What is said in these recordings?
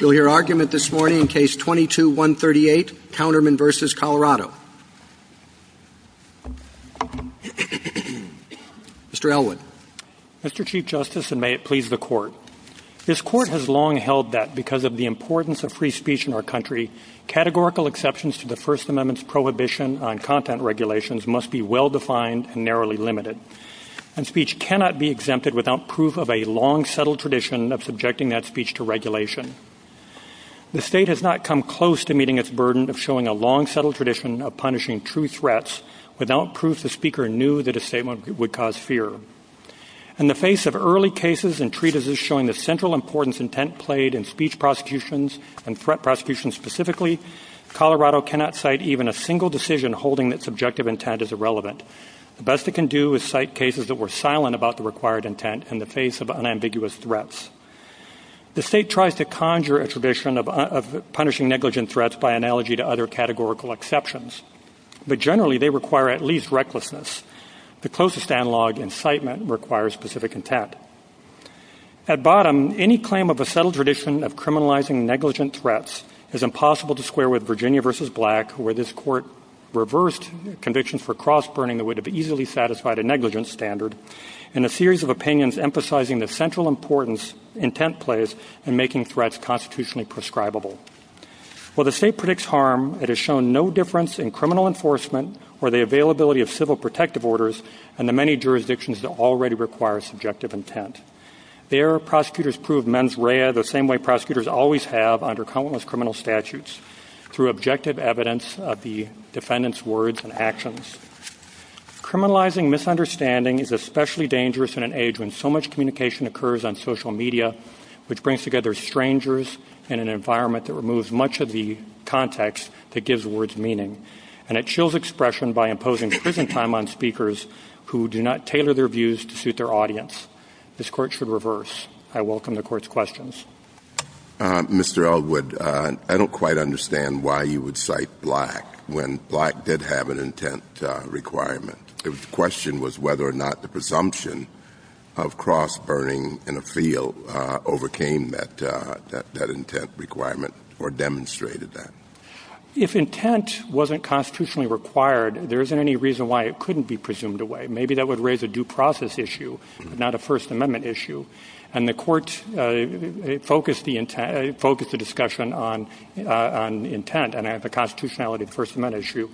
Mr. Chief Justice, and may it please the Court. This Court has long held that, because of the importance of free speech in our country, categorical exceptions to the First Amendment's prohibition on content regulations must be well-defined and narrowly limited. Speech cannot be exempted without proof of a long, settled tradition of subjecting that speech to regulation. The State has not come close to meeting its burden of showing a long, settled tradition of punishing true threats without proof the Speaker knew that a statement would cause fear. In the face of early cases and treatises showing the central importance intent played in speech prosecutions, and threat prosecutions specifically, Colorado cannot cite even a single decision holding that subjective intent is irrelevant. The best it can do is cite cases that were silent about the required intent in the face of unambiguous threats. The State tries to conjure a tradition of punishing negligent threats by analogy to other categorical exceptions, but generally they require at least recklessness. The closest analog in citement requires specific intent. At bottom, any claim of a settled tradition of criminalizing negligent threats is impossible to square with Virginia v. Black, where this Court reversed convictions for cross-burning that would have easily satisfied a negligent standard in a series of opinions emphasizing the central importance intent plays in making threats constitutionally prescribable. While the State predicts harm, it has shown no difference in criminal enforcement or the availability of civil protective orders in the many jurisdictions that already require subjective intent. There, prosecutors prove mens rea the same way prosecutors always have under countless criminal statutes, through objective evidence of the defendant's words and actions. Criminalizing misunderstanding is especially dangerous in an age when so much communication occurs on social media, which brings together strangers in an environment that removes much of the context that gives words meaning. And it chills expression by imposing prison time on speakers who do not tailor their views to suit their audience. This Court should reverse. I welcome the Court's questions. Mr. Elwood, I don't quite understand why you would cite Black when Black did have an intent requirement. The question was whether or not the presumption of cross-burning in a field overcame that intent requirement or demonstrated that. If intent wasn't constitutionally required, there isn't any reason why it couldn't be presumed away. Maybe that would raise a due process issue, not a First Amendment issue. And the Court focused the discussion on intent and the constitutionality of the First Amendment issue.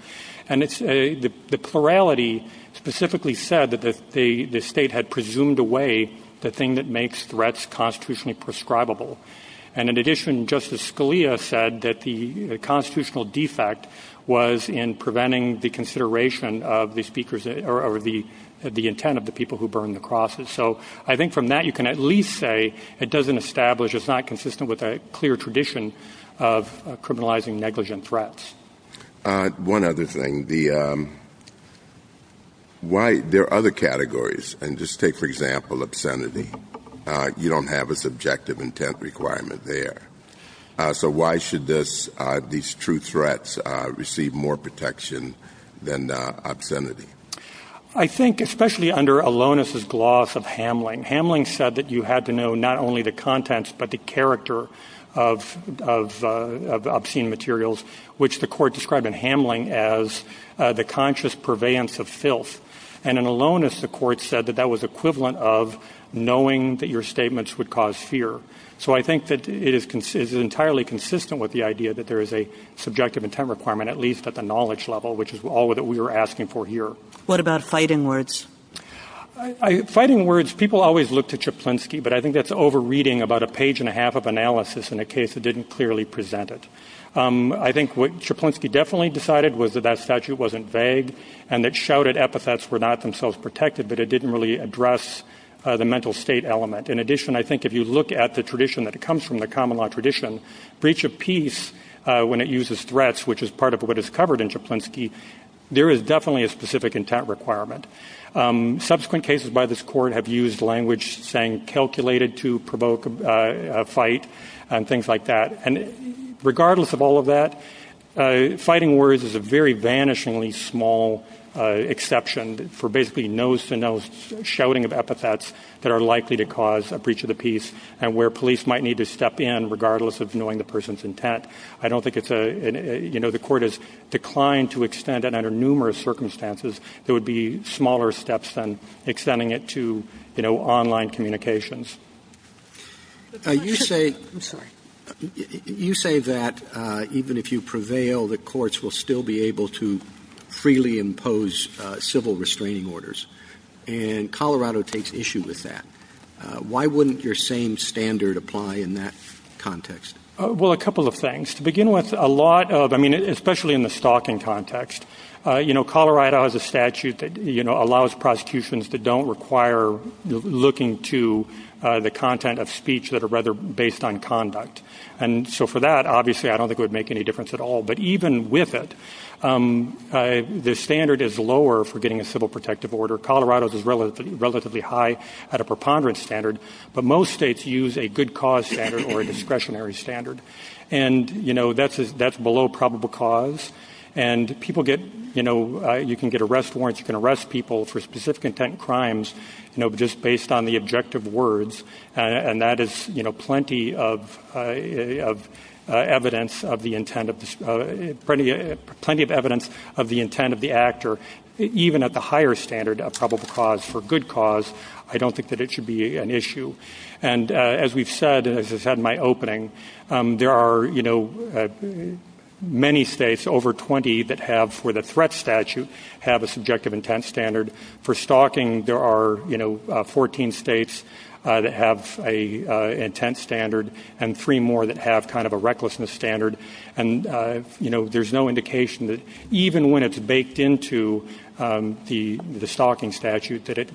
And the plurality specifically said that the state had presumed away the thing that makes threats constitutionally prescribable. And in addition, Justice Scalia said that the constitutional defect was in preventing the consideration of the intent of the people who burned the crosses. So I think from that, you can at least say it doesn't establish, it's not consistent with a clear tradition of criminalizing negligent threats. One other thing. There are other categories. And just take, for example, obscenity. You don't have a subjective intent requirement there. So why should these true threats receive more protection than obscenity? I think especially under Alonis' gloss of Hamlin, Hamlin said that you had to know not only the contents but the character of obscene materials, which the Court described in Hamlin as the conscious purveyance of filth. And in Alonis, the Court said that that was equivalent of knowing that your statements would cause fear. So I think that it is entirely consistent with the idea that there is a subjective intent requirement, at least at the knowledge level, which is all that we are asking for here. What about fighting words? Fighting words, people always look to Czaplinski, but I think that's over-reading about a page and a half of analysis in a case that didn't clearly present it. I think what Czaplinski definitely decided was that that statute wasn't vague and that shouted epithets were not themselves protected, but it didn't really address the mental state element. In addition, I think if you look at the tradition that comes from the common law tradition, breach of peace, when it uses threats, which is part of what is covered in Czaplinski, there is definitely a specific intent requirement. Subsequent cases by this Court have used language saying calculated to provoke a fight and things like that. And regardless of all of that, fighting words is a very vanishingly small exception for basically nose-to-nose shouting of epithets that are likely to cause a breach of the peace and where police might need to step in regardless of knowing the person's intent. I don't think it's a, you know, the Court has declined to extend it under numerous circumstances. There would be smaller steps than extending it to, you know, online communications. You say that even if you prevail, the courts will still be able to freely impose civil restraining orders, and Colorado takes issue with that. Why wouldn't your same standard apply in that context? Well, a couple of things. To begin with, a lot of, I mean, especially in the stalking context, you know, Colorado has a statute that, you know, allows prosecutions that don't require looking to the content of speech that are rather based on conduct. And so for that, obviously, I don't think it would make any difference at all. But even with it, the standard is lower for getting a civil protective order. Colorado's is relatively high at a preponderance standard, but most states use a good cause standard or a discretionary standard. And, you know, that's below probable cause. And people get, you know, you can get arrest warrants, you can arrest people for specific intent crimes, you know, just based on the objective words. And that is, you know, plenty of evidence of the intent of this, plenty of evidence of the intent of the actor, even at the higher standard of probable cause for good cause. I don't think that it should be an issue. And as we've said, as I said in my opening, there are, you know, many states, over 20, that have, for the threat statute, have a subjective intent standard. For stalking, there are, you know, 14 states that have an intent standard and three more that have kind of a recklessness standard. And, you know, there's no indication that even when it's baked into the stalking statute, that it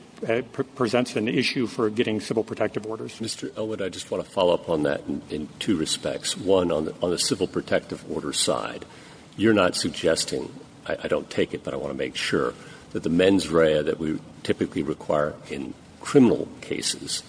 presents an issue for getting civil protective orders. Mr. Elwood, I just want to follow up on that in two respects. One, on the civil protective order side, you're not suggesting, I don't take it, but I want to make sure, that the mens rea that we typically require in criminal cases,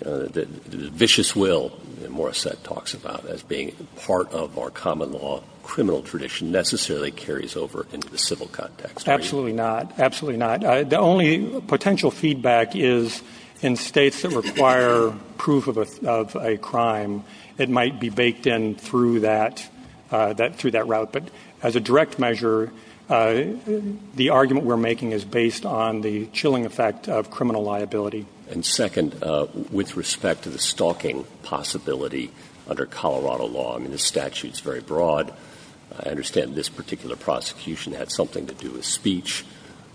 the vicious will that Morissette talks about as being part of our common law criminal tradition necessarily carries over into the civil context. Absolutely not. Absolutely not. The only potential feedback is in states that require proof of a crime, it might be baked in through that route. But as a direct measure, the argument we're making is based on the chilling effect of criminal liability. And second, with respect to the stalking possibility under Colorado law, I mean, the statute's very broad. I understand this particular prosecution had something to do with speech,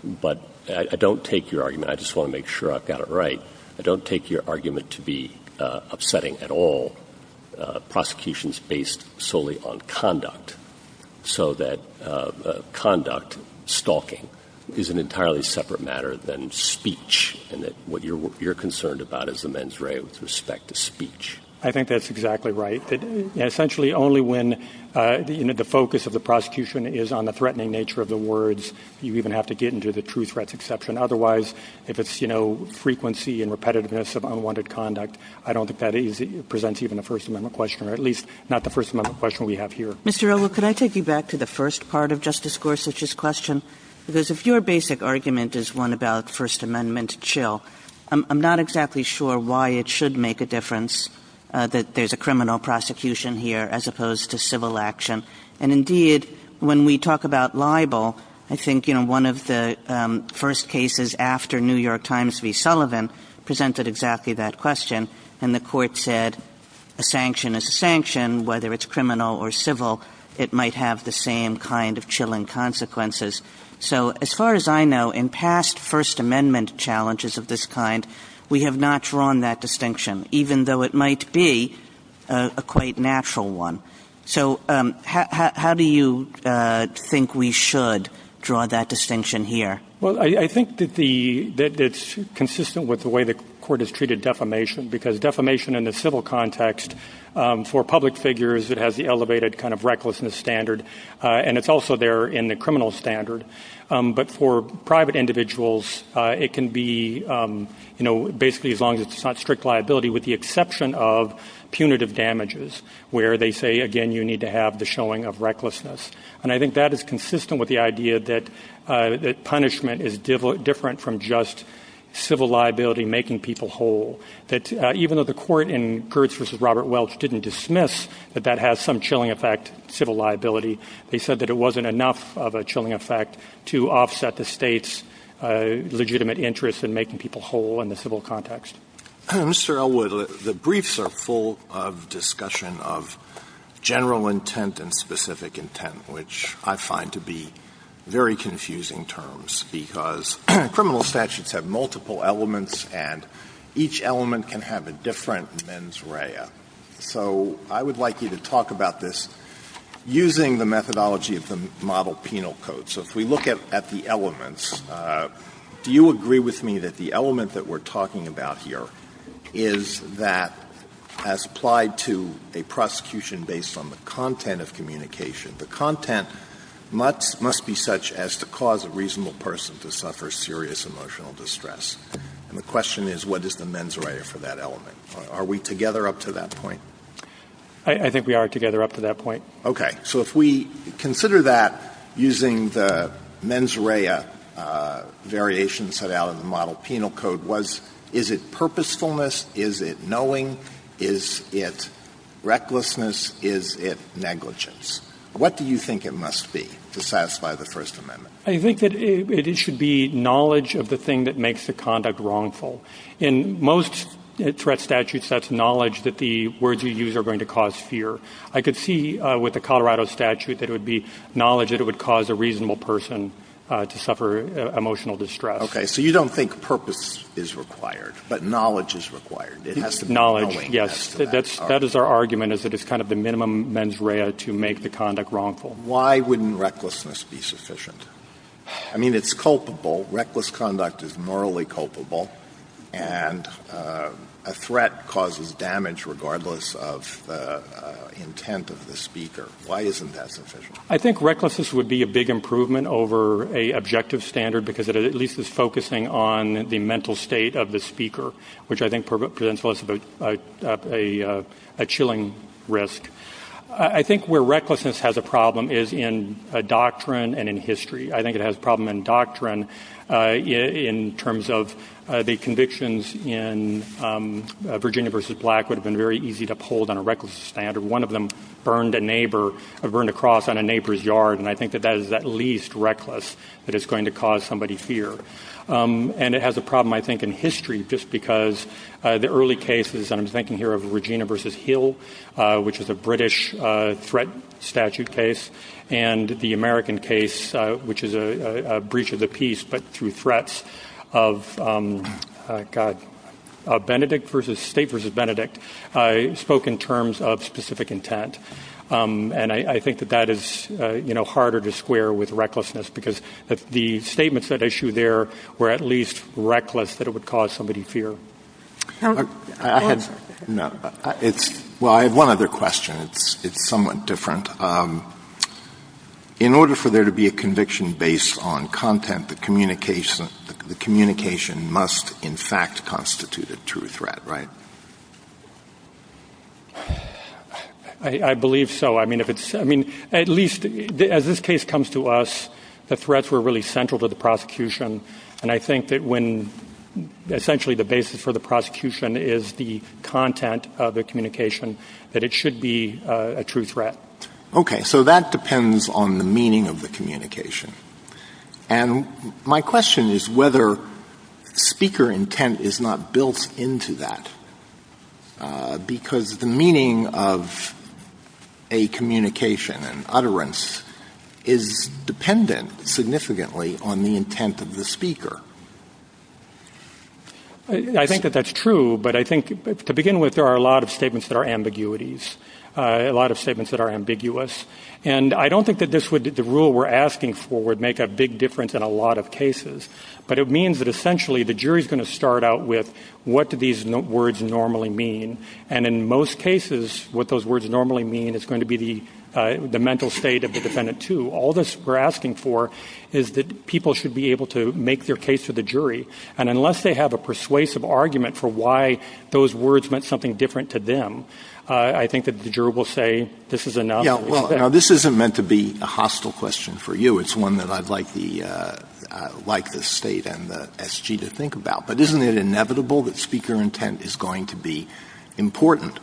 but I don't take your argument, and I just want to make sure I've got it right, I don't take your argument to be upsetting at all. Prosecutions based solely on conduct, so that conduct, stalking, is an entirely separate matter than speech, and that what you're concerned about is the mens rea with respect to speech. I think that's exactly right. Essentially, only when the focus of the prosecution is on the threatening nature of the words, you even have to get into the truth, rights, exception. Otherwise, if it's frequency and repetitiveness of unwanted conduct, I don't think that presents even a First Amendment question, or at least not the First Amendment question we have here. Mr. Elwood, could I take you back to the first part of Justice Gorsuch's question? Because if your basic argument is one about First Amendment chill, I'm not exactly sure why it should make a difference that there's a criminal prosecution here as opposed to civil action. And indeed, when we talk about libel, I think one of the first cases after New York Times v. Sullivan presented exactly that question, and the court said a sanction is a sanction, whether it's criminal or civil, it might have the same kind of chilling consequences. So as far as I know, in past First Amendment challenges of this kind, we have not drawn that distinction, even though it might be a quite natural one. So how do you think we should draw that distinction here? Well, I think that it's consistent with the way the court has treated defamation, because defamation in the civil context, for public figures, it has the elevated kind of recklessness standard, and it's also there in the criminal standard. But for private individuals, it can be basically as long as it's not strict liability, with the exception of punitive damages, where they say, again, you need to have the showing of recklessness. And I think that is consistent with the idea that punishment is different from just civil liability making people whole, that even though the court in Kurtz v. Robert Welch didn't dismiss that that has some chilling effect, civil liability, they said that it wasn't enough of a chilling effect to offset the state's legitimate interest in making people whole in the civil context. Mr. Elwood, the briefs are full of discussion of general intent and specific intent, which I find to be very confusing terms, because criminal statutes have multiple elements, and each element can have a different mens rea. So I would like you to talk about this using the methodology of the model penal code. So if we look at the elements, do you agree with me that the element that we're talking about here is that, as applied to a prosecution based on the content of communication, the content must be such as to cause a reasonable person to suffer serious emotional distress? And the question is, what is the mens rea for that element? Are we together up to that point? I think we are together up to that point. Okay. So if we consider that using the mens rea variations set out in the model penal code, is it purposefulness, is it knowing, is it recklessness, is it negligence? What do you think it must be to satisfy the First Amendment? I think that it should be knowledge of the thing that makes the conduct wrongful. In most threat statutes, that's knowledge that the words you use are going to cause fear. I could see with the Colorado statute that it would be knowledge that it would cause a reasonable person to suffer emotional distress. Okay. So you don't think purpose is required, but knowledge is required. Knowledge, yes. That is our argument, is that it's kind of the minimum mens rea to make the conduct wrongful. Why wouldn't recklessness be sufficient? I mean, it's culpable. Reckless conduct is morally culpable, and a threat causes damage regardless of the intent of the speaker. Why isn't that sufficient? I think recklessness would be a big improvement over a objective standard because it at least is focusing on the mental state of the speaker, which I think presents a chilling risk. I think where recklessness has a problem is in doctrine and in history. I think it has a problem in doctrine in terms of the convictions in Virginia v. Black would have been very easy to uphold on a recklessness standard. One of them burned a cross on a neighbor's yard, and I think that that is at least reckless that it's going to cause somebody fear. And it has a problem, I think, in history just because the early cases, and I'm thinking here of Virginia v. Hill, which is a British threat statute case, and the American case, which is a breach of the peace but through threats of Benedict v. State v. Benedict, spoke in terms of specific intent. And I think that that is harder to square with recklessness because the statements at issue there were at least reckless that it would cause somebody fear. Well, I have one other question. It's somewhat different. In order for there to be a conviction based on content, the communication must in fact constitute a true threat, right? I believe so. I mean, at least as this case comes to us, the threats were really central to the prosecution, and I think that when essentially the basis for the prosecution is the content of the communication, that it should be a true threat. Okay, so that depends on the meaning of the communication. And my question is whether speaker intent is not built into that because the meaning of a communication and utterance is dependent significantly on the intent of the speaker. I think that that's true, but I think to begin with, there are a lot of statements that are ambiguities, a lot of statements that are ambiguous. And I don't think that the rule we're asking for would make a big difference in a lot of cases, but it means that essentially the jury's going to start out with, what do these words normally mean? And in most cases, what those words normally mean is going to be the mental state of the defendant, too. All this we're asking for is that people should be able to make their case to the jury. And unless they have a persuasive argument for why those words meant something different to them, I think that the jury will say, this is enough. Yeah, well, this isn't meant to be a hostile question for you. It's one that I'd like the state and the SG to think about. But isn't it inevitable that speaker intent is going to be important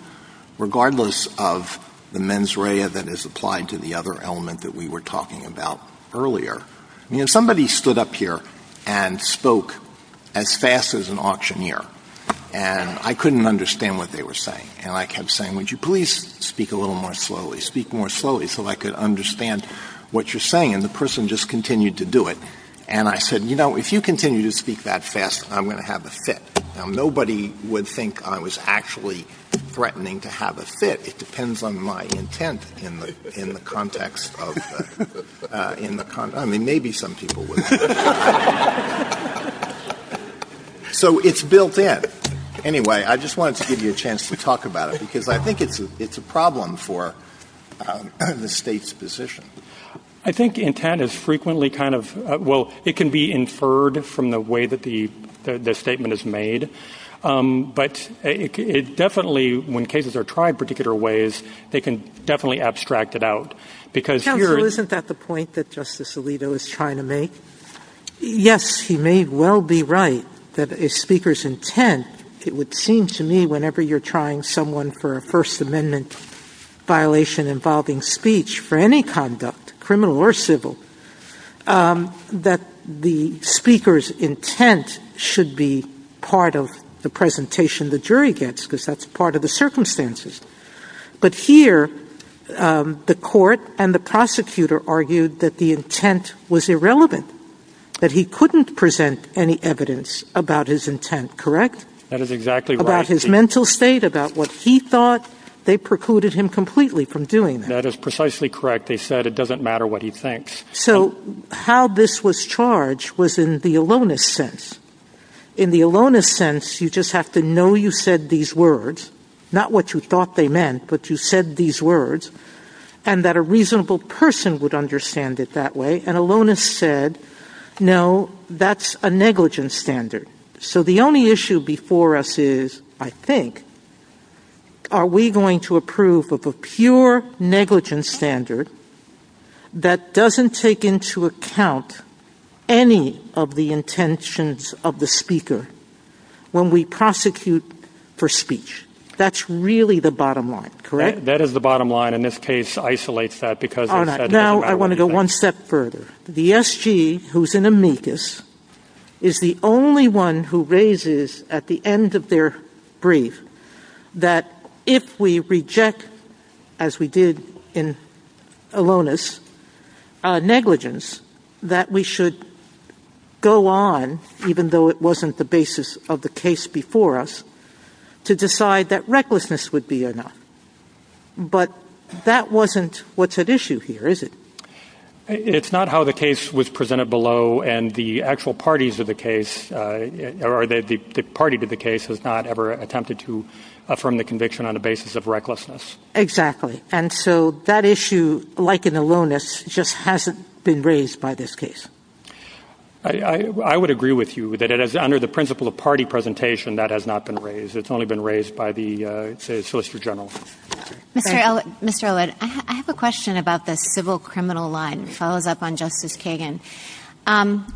regardless of the mens rea that is applied to the other element that we were talking about earlier? Somebody stood up here and spoke as fast as an auctioneer, and I couldn't understand what they were saying. And I kept saying, would you please speak a little more slowly? Speak more slowly so I could understand what you're saying. And the person just continued to do it. And I said, you know, if you continue to speak that fast, I'm going to have a fit. Now, nobody would think I was actually threatening to have a fit. It depends on my intent in the context. I mean, maybe some people would. So it's built in. Anyway, I just wanted to give you a chance to talk about it, because I think it's a problem for the state's position. I think intent is frequently kind of well, it can be inferred from the way that the statement is made. But it definitely when cases are tried in particular ways, they can definitely abstract it out. Isn't that the point that Justice Alito is trying to make? Yes, he may well be right that a speaker's intent. It would seem to me whenever you're trying someone for a First Amendment violation involving speech for any conduct, criminal or civil, that the speaker's intent should be part of the presentation the jury gets, because that's part of the circumstances. But here, the court and the prosecutor argued that the intent was irrelevant, that he couldn't present any evidence about his intent. Correct? That is exactly about his mental state, about what he thought. They precluded him completely from doing that. So how this was charged was in the aloneness sense. In the aloneness sense, you just have to know you said these words, not what you thought they meant, but you said these words, and that a reasonable person would understand it that way. And aloneness said, no, that's a negligent standard. So the only issue before us is, I think, are we going to approve of a pure negligent standard that doesn't take into account any of the intentions of the speaker when we prosecute for speech? That's really the bottom line, correct? That is the bottom line, and this case isolates that because the S.G., who's an amicus, is the only one who raises at the end of their brief that if we reject, as we did in aloneness, negligence, that we should go on, even though it wasn't the basis of the case before us, to decide that It's not how the case was presented below, and the actual parties of the case or the party to the case has not ever attempted to affirm the conviction on the basis of recklessness. Exactly. And so that issue, like in aloneness, just hasn't been raised by this case. I would agree with you that under the principle of party presentation, that has not been raised. It's only been raised by the civil-criminal line. It follows up on Justice Kagan.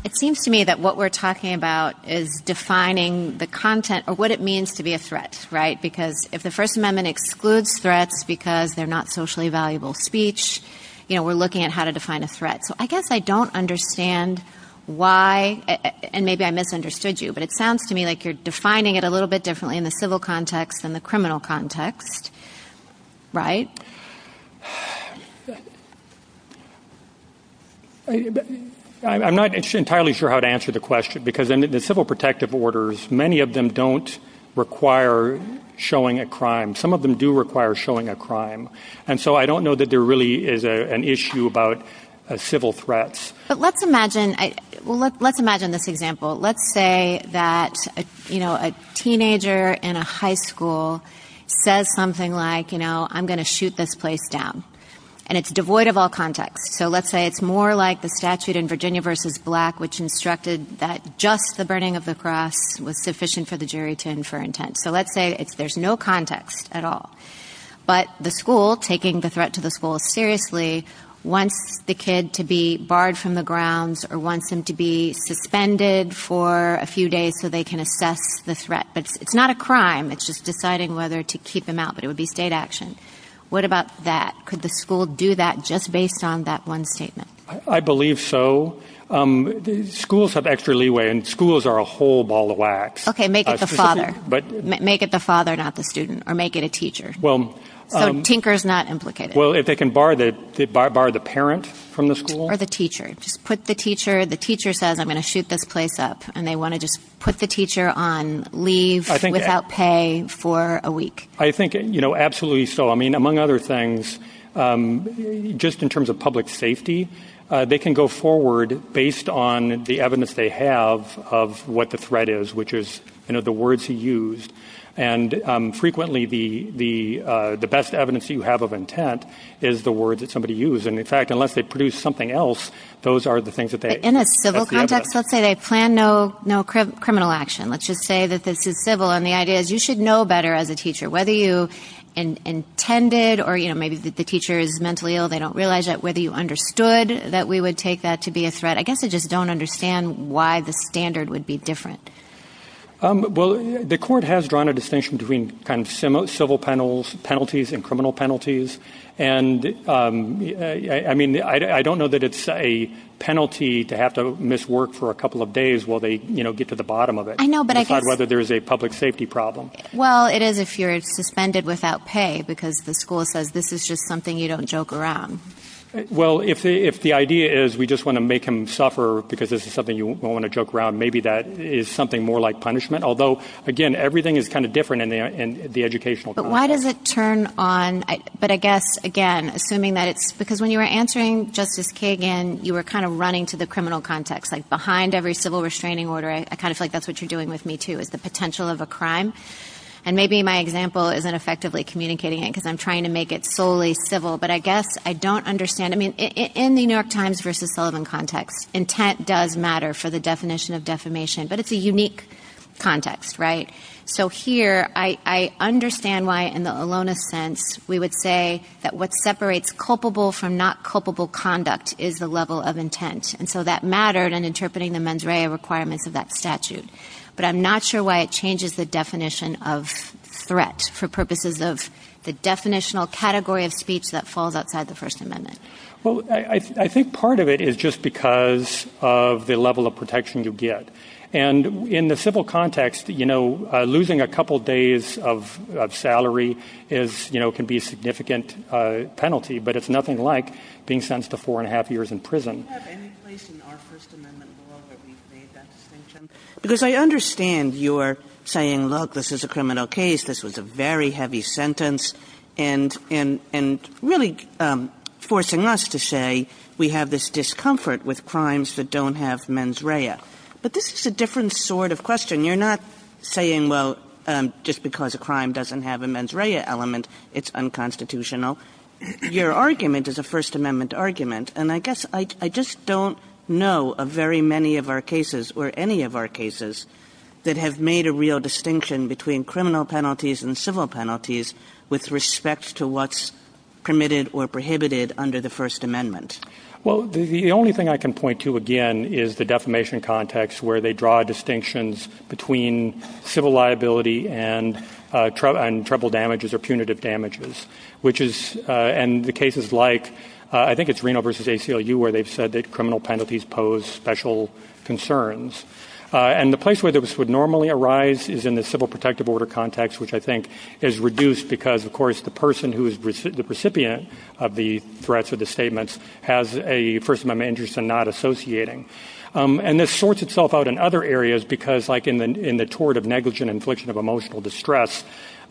It seems to me that what we're talking about is defining the content or what it means to be a threat, right? Because if the First Amendment excludes threats because they're not socially valuable speech, we're looking at how to define a threat. So I guess I don't understand why, and maybe I misunderstood you, but it sounds to me like you're defining it a little bit differently in the civil context than the criminal context, right? I'm not entirely sure how to answer the question, because in the civil protective orders, many of them don't require showing a crime. Some of them do require showing a crime. And so I don't know that there really is an issue about civil threats. But let's imagine this example. Let's say that a teenager in a high school says something like, you know, I'm going to shoot this place down. And it's devoid of all context. So let's say it's more like the statute in Virginia v. Black, which instructed that just the burning of the cross was sufficient for the jury to infer intent. So let's say there's no context at all. But the school, taking the threat to the school seriously, wants the kid to be barred from the grounds or wants him to be suspended for a few days so they can assess the threat. But it's not a crime. It's just deciding whether to keep him out. But it would be state action. What about that? Could the school do that just based on that one statement? I believe so. Schools have extra leeway, and schools are a whole ball of wax. Okay. Make it the father. Make it the father, not the student. Or make it a teacher. So tinker is not implicated. Or the teacher. The teacher says, I'm going to shoot this place up. And they want to just put the teacher on leave without pay for a week. I think absolutely so. I mean, among other things, just in terms of public safety, they can go forward based on the evidence they have of what the threat is, which is the words he used. And frequently the best evidence you have of intent is the word that somebody used. And in fact, unless they produce something else, those are the things that they have. In a civil context, let's say they plan no criminal action. Let's just say this is civil, and the idea is you should know better as a teacher. Whether you intended, or maybe the teacher is mentally ill, they don't realize that. Whether you understood that we would take that to be a threat. I guess they just don't understand why the standard would be different. Well, the court has drawn a distinction between civil penalties and criminal penalties. And I mean, I don't know that it's a penalty to have to miss work for a couple of days while they get to the bottom of it, besides whether there's a public safety problem. Well, it is if you're suspended without pay, because the school says this is just something you don't joke around. Well, if the idea is we just want to make him suffer because this is something you don't want to joke around, maybe that is something more like punishment. Although, again, everything is kind of different in the educational context. Why does it turn on, but I guess, again, assuming that it's, because when you were answering Justice Kagan, you were kind of running to the criminal context, like behind every civil restraining order. I kind of feel like that's what you're doing with me, too, is the potential of a crime. And maybe my example isn't effectively communicating it, because I'm trying to make it solely civil. But I guess I don't understand. I mean, in the New York Times versus Sullivan context, intent does matter for the state. In the Alona sense, we would say that what separates culpable from not culpable conduct is the level of intent. And so that mattered in interpreting the mens rea requirements of that statute. But I'm not sure why it changes the definition of threat for purposes of the definitional category of speech that falls outside the First Amendment. Well, I think part of it is just because of the level of protection you get. And in the civil context, losing a couple days of salary can be a significant penalty, but it's nothing like being sentenced to four and a half years in prison. Because I understand you're saying, look, this is a criminal case. This was a very heavy sentence. And really forcing us to say, we have this discomfort with crimes that don't have mens rea. But this is a different sort of question. You're not saying, well, just because a crime doesn't have a mens rea element, it's unconstitutional. Your argument is a First Amendment argument. And I guess I just don't know of very many of our cases, or any of our cases, that have made a real distinction between criminal penalties and civil penalties with respect to what's permitted or prohibited under the First Amendment. Well, the only thing I can point to, again, is the defamation context, where they draw distinctions between civil liability and trouble damages or punitive damages. And the cases like, I think it's Reno versus ACLU, where they've said that criminal penalties pose special concerns. And the place where this would normally arise is in the civil protective order context, which I think is reduced because, of course, the person who is the recipient of the threats of the statements has a First Amendment interest in not associating. And this sorts itself out in other areas because, like in the tort of negligent infliction of emotional distress,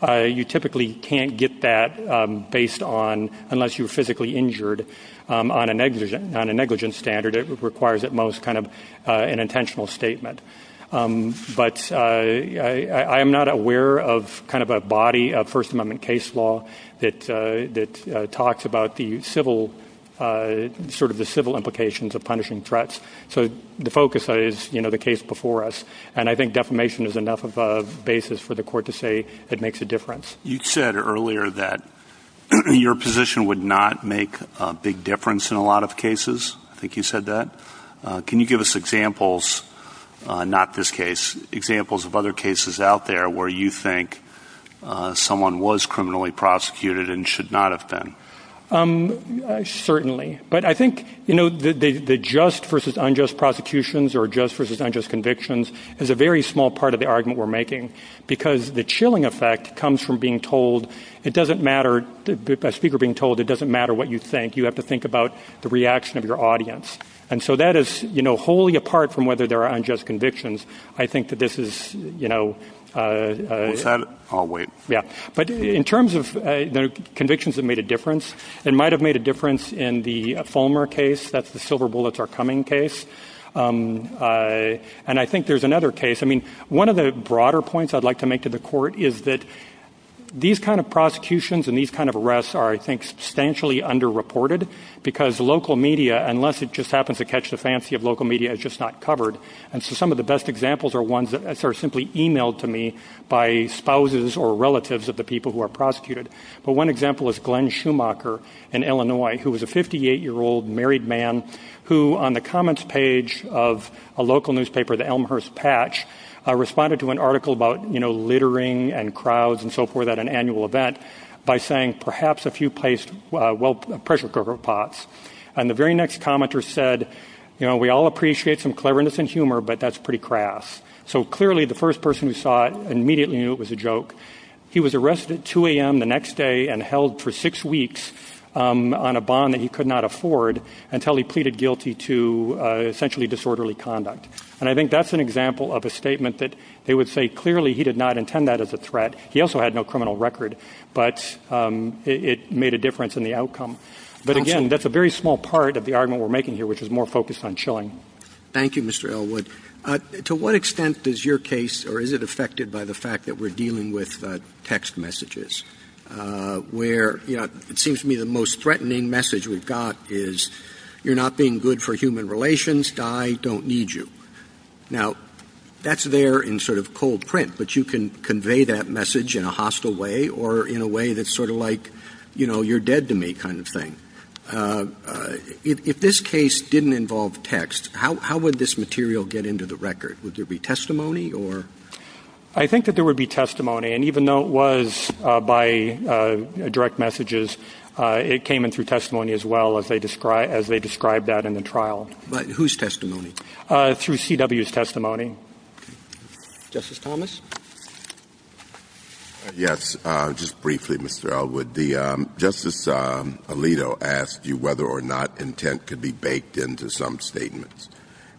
you typically can't get that based on, unless you're physically injured, on a negligent standard. It requires, at most, an intentional statement. But I am not aware of a body of First Amendment case law that talks about the civil implications of punishing threats. So the focus is the case before us. And I think defamation is enough of a basis for the Court to say it makes a difference. You said earlier that your position would not make a big difference in a lot of cases. I think you said that. Can you give us examples, not this case, examples of other cases out there where you think someone was criminally prosecuted and should not have been? Certainly. But I think the just versus unjust prosecutions or just versus unjust convictions is a very small part of the argument we're making, because the chilling effect comes from being told it doesn't matter, a speaker being told it doesn't matter what you think. You have to think about the reaction of your audience. And so that is wholly apart from whether there are unjust convictions. I think that this is... But in terms of convictions that made a difference, it might have made a difference in the Fulmer case. That's the silver bullets are coming case. And I think there's another case. I mean, one of the broader points I'd like to make to the court is that these kind of prosecutions and these kind of arrests are, I think, substantially underreported, because local media, unless it just happens to catch the fancy of local media, is just not covered. And so some of the best examples are ones that are simply e-mailed to me by spouses or relatives of the people who are prosecuted. But one example is Glenn Schumacher in Illinois, who was a 58-year-old married man who, on the comments page of a local newspaper, the Elmhurst Patch, responded to an article about littering and crowds and so forth at an annual event by saying perhaps if you placed... well, pressure cooker pots. And the very next commenter said, you know, we all appreciate some cleverness and humor, but that's pretty crass. So clearly the first person who saw it immediately knew it was a joke. He was arrested at 2 a.m. the next day and held for six weeks on a bond that he could not afford until he pleaded guilty to essentially disorderly conduct. And I think that's an example of a statement that they would say clearly he did not intend that as a threat. He also had no criminal record, but it made a difference in the outcome. But again, that's a very small part of the argument we're making here, which is more focused on chilling. Thank you, Mr. Elwood. To what extent does your case, or is it affected by the fact that we're dealing with text messages, where it seems to me the most threatening message we've got is you're not being good for human relations, die, don't need you. Now, that's there in sort of cold print, but you can convey that message in a hostile way or in a way that's sort of like you're dead to me kind of thing. If this case didn't involve text, how would this material get into the record? Would there be testimony? I think that there would be testimony, and even though it was by direct messages, it came in through testimony as well as they described that in the trial. But whose testimony? Through CW's testimony. Justice Thomas? Yes, just briefly, Mr. Elwood. Justice Alito asked you whether or not intent could be baked into some statements,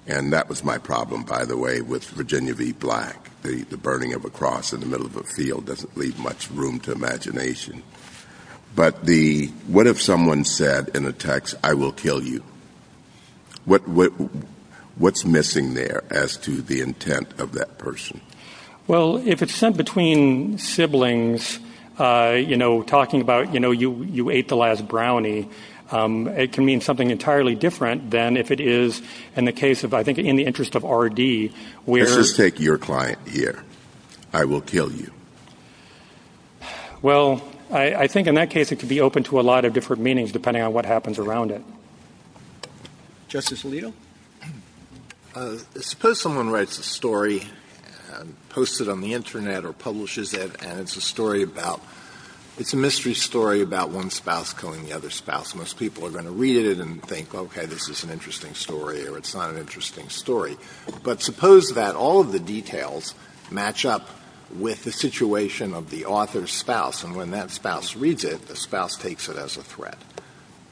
and that was my problem, by the way, with Virginia v. Black. The burning of a cross in the middle of a field doesn't leave much room to imagination. But what if someone said in a text, I will kill you? What's missing there as to the intent of that person? Well, if it's sent between siblings, you know, talking about, you know, you ate the last brownie, it can mean something entirely different than if it is in the case of, I think, in the interest of R.D. Let's just take your client here. I will kill you. Well, I think in that case it could be open to a lot of different meanings depending on what happens around it. Justice Alito? Suppose someone writes a story, posts it on the Internet or publishes it, and it's a story about, it's a mystery story about one spouse killing the other spouse. Most people are going to read it, but suppose that all of the details match up with the situation of the author's spouse, and when that spouse reads it, the spouse takes it as a threat.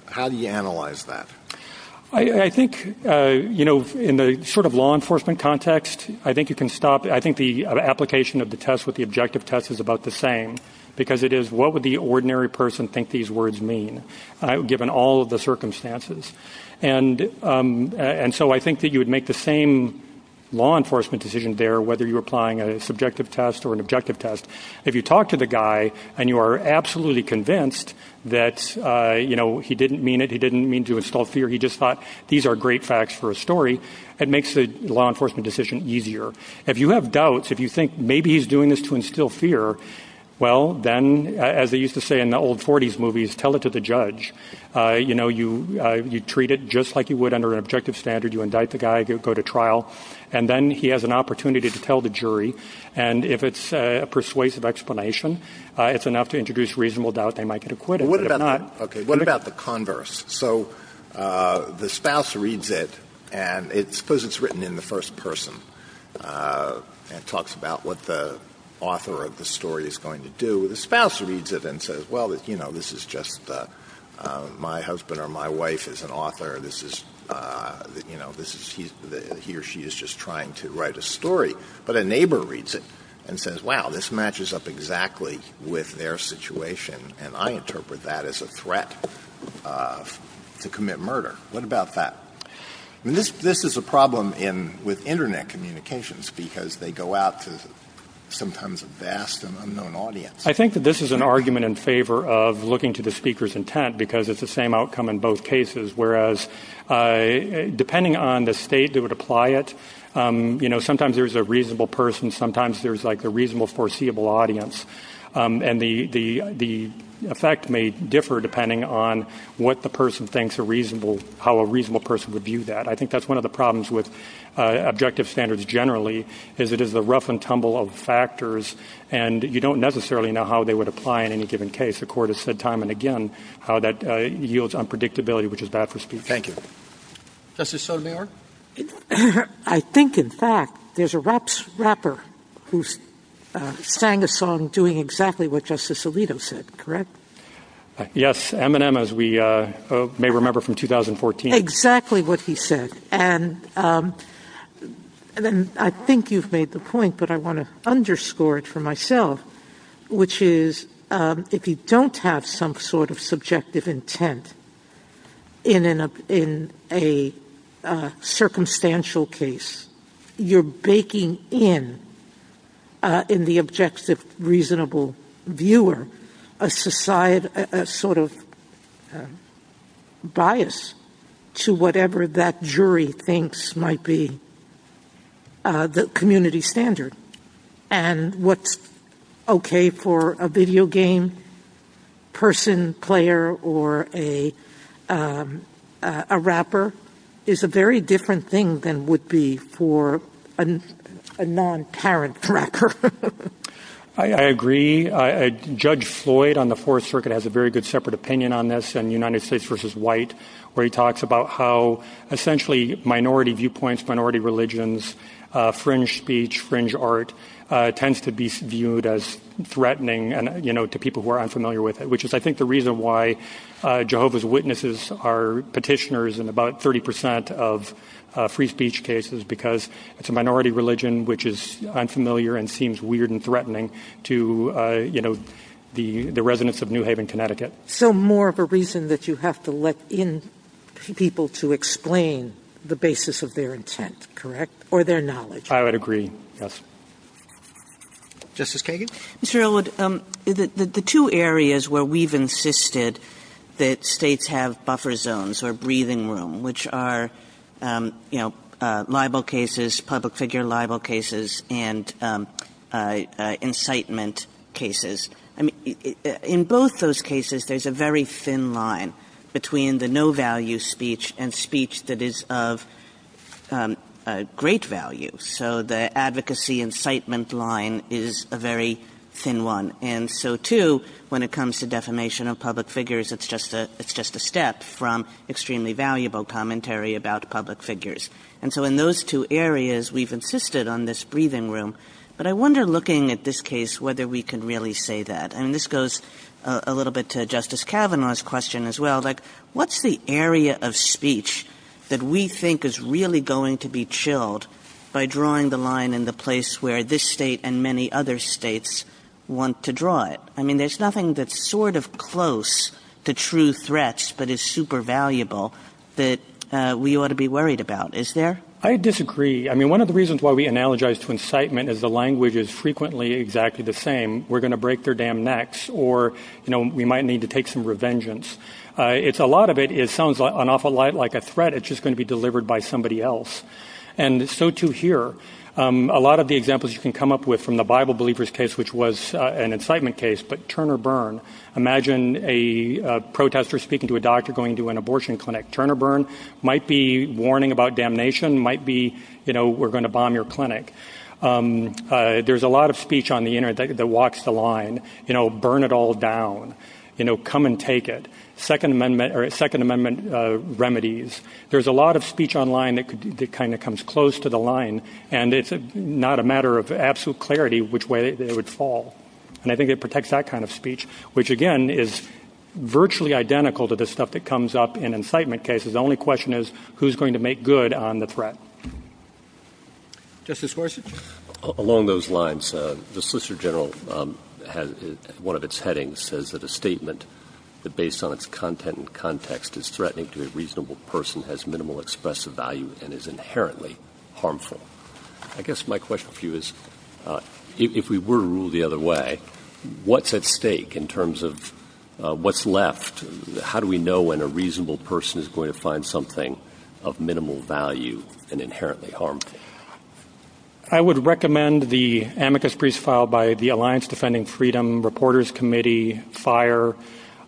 How do you analyze that? I think, you know, in the sort of law enforcement context, I think you can stop. I think the application of the test with the objective test is about the same, because it is what would the ordinary person think these words mean, given all of the information that is out there. If you talk to the guy and you are absolutely convinced that, you know, he didn't mean it, he didn't mean to instill fear, he just thought these are great facts for a story, it makes the law enforcement decision easier. If you have doubts, if you think maybe he's doing this to instill fear, well, then, as they used to say in the old 40s movies, tell it to the judge. You know, you treat it just like you would under an objective standard. You indict the guy, you go to trial, and then he has an opportunity to tell the jury. And if it's a persuasive explanation, it's enough to introduce reasonable doubt they might get acquitted. What about the converse? So the spouse reads it, and suppose it's written in the first person and talks about what the author of the story is going to do. The spouse reads it and says, well, you know, this is just my husband or my wife is an author, he or she is just trying to write a story. But a neighbor reads it and says, wow, this matches up exactly with their situation, and I interpret that as a threat to commit murder. What about that? This is a problem with Internet communications, because they go out to sometimes a vast and unknown audience. I think that this is an argument in favor of looking to the speaker's intent, because it's the same outcome in both cases, whereas depending on the state that would apply it, you know, sometimes there's a reasonable person, sometimes there's like a reasonable foreseeable audience. And the effect may differ depending on what the person thinks are reasonable, how a reasonable person would view that. I think that's one of the problems with objective standards generally, is it is a rough and tumble of factors, and you don't necessarily know how they would apply in any given case. The court has said time and again how that yields unpredictability, which is bad for speech. Thank you. Justice Sotomayor? I think, in fact, there's a point, and I think you've made the point, but I want to underscore it for myself, which is if you don't have some sort of subjective intent in a circumstantial case, you're baking in, in the objective reasonable viewer, a sort of bias to whatever that jury thinks might be the community standard. And what's okay for a video game person, player, or a rapper is a very different thing than would be for a non-parent person. I agree. Judge Floyd on the Fourth Circuit has a very good separate opinion on this in United States v. White, where he talks about how essentially minority viewpoints, minority religions, fringe speech, fringe art, tends to be viewed as threatening to people who are unfamiliar with it, which is, I think, the reason why Jehovah's Witnesses are petitioners in about 30% of free speech cases, because it's a minority religion which is unfamiliar and seems weird and threatening to the residents of New Haven, Connecticut. So more of a reason that you have to let in people to explain the basis of their intent, correct, or their knowledge. I would agree, yes. Justice Kagan? Mr. Elwood, the two areas where we've insisted that states have buffer zones or breathing room, which are libel cases, public figure libel cases, and incitement cases. In both those cases, there's a very thin line between the no-value speech and speech that is of great value. So the advocacy incitement line is a very thin one. And so too, when it comes to defamation of public figures, it's just a step from extremely valuable commentary about public figures. And so in those two areas, we've insisted on this breathing room. But I wonder, looking at this case, whether we can really say that. And this goes a little bit to Justice Kavanaugh's question as well. What's the area of speech that we think is really going to be chilled by drawing the line in the place where this state and many other states want to draw it? I mean, there's nothing that's sort of close to true threats but is super valuable that we ought to be worried about. Is there? I disagree. I mean, one of the reasons why we analogize to incitement is the language is frequently exactly the same. We're going to break their damn necks or we might need to take some revengeance. It's a lot of it. It sounds an awful lot like a threat. It's just going to be delivered by somebody else. And so to hear a lot of the examples you can come up with from the Bible believers case, which was an incitement case. But Turner Burn, imagine a protester speaking to a doctor going to an abortion clinic. Turner Burn might be warning about damnation, might be, you know, we're going to bomb your clinic. There's a lot of speech on the Internet that walks the line. You know, burn it all down. You know, come and take it. Second Amendment or Second Amendment remedies. There's a lot of speech online that kind of comes close to the line. And it's not a matter of absolute clarity which way it would fall. And I think it protects that kind of speech, which, again, is virtually identical to the stuff that comes up in incitement cases. The only question is who's going to make good on the threat. Along those lines, the Solicitor General has one of its headings says that a statement that based on its content and context is threatening to a reasonable person has minimal expressive value and is inherently harmful. I guess my question for you is if we were to rule the other way, what's at stake in terms of what's left? How do we know when a reasonable person is going to find something of minimal value and inherently harmful? I would recommend the amicus briefs filed by the Alliance Defending Freedom Reporters Committee, FIRE,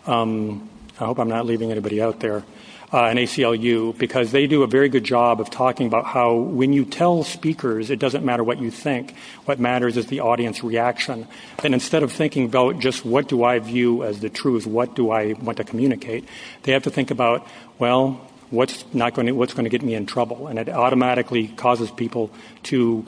I hope I'm not leaving anybody out there, and ACLU because they do a very good job of talking about how when you tell speakers it doesn't matter what you think, what matters is the audience reaction. And instead of thinking about just what do I view as the truth, what do I want to communicate, they have to think about, well, what's going to get me in trouble? And it automatically causes people to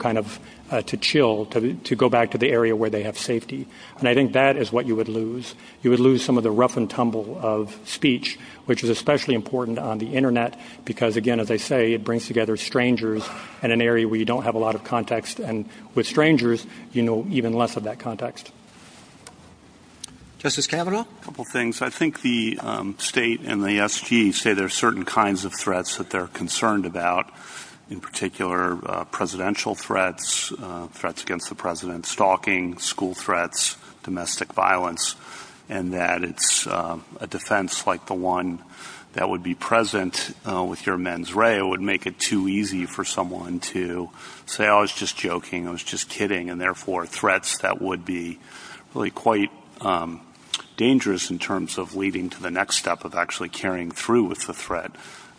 chill, to go back to the area where they have safety. And I think that is what you would lose. You would lose some of the rough and tumble of speech, which is especially important on the Internet because, again, as I say, it brings together strangers in an area where you don't have a lot of context. And with strangers, you know even less of that context. Justice Kavanaugh? A couple things. I think the state and the SG say there are certain kinds of threats that they're concerned about, in particular presidential threats, threats against the president, stalking, school threats, domestic violence, and that it's a defense like the one that would be present with your mens rea. It would make it too easy for someone to say, oh, I was just joking, I was just kidding, and therefore threats that would be really quite dangerous in terms of leading to the next step of actually carrying through with the threat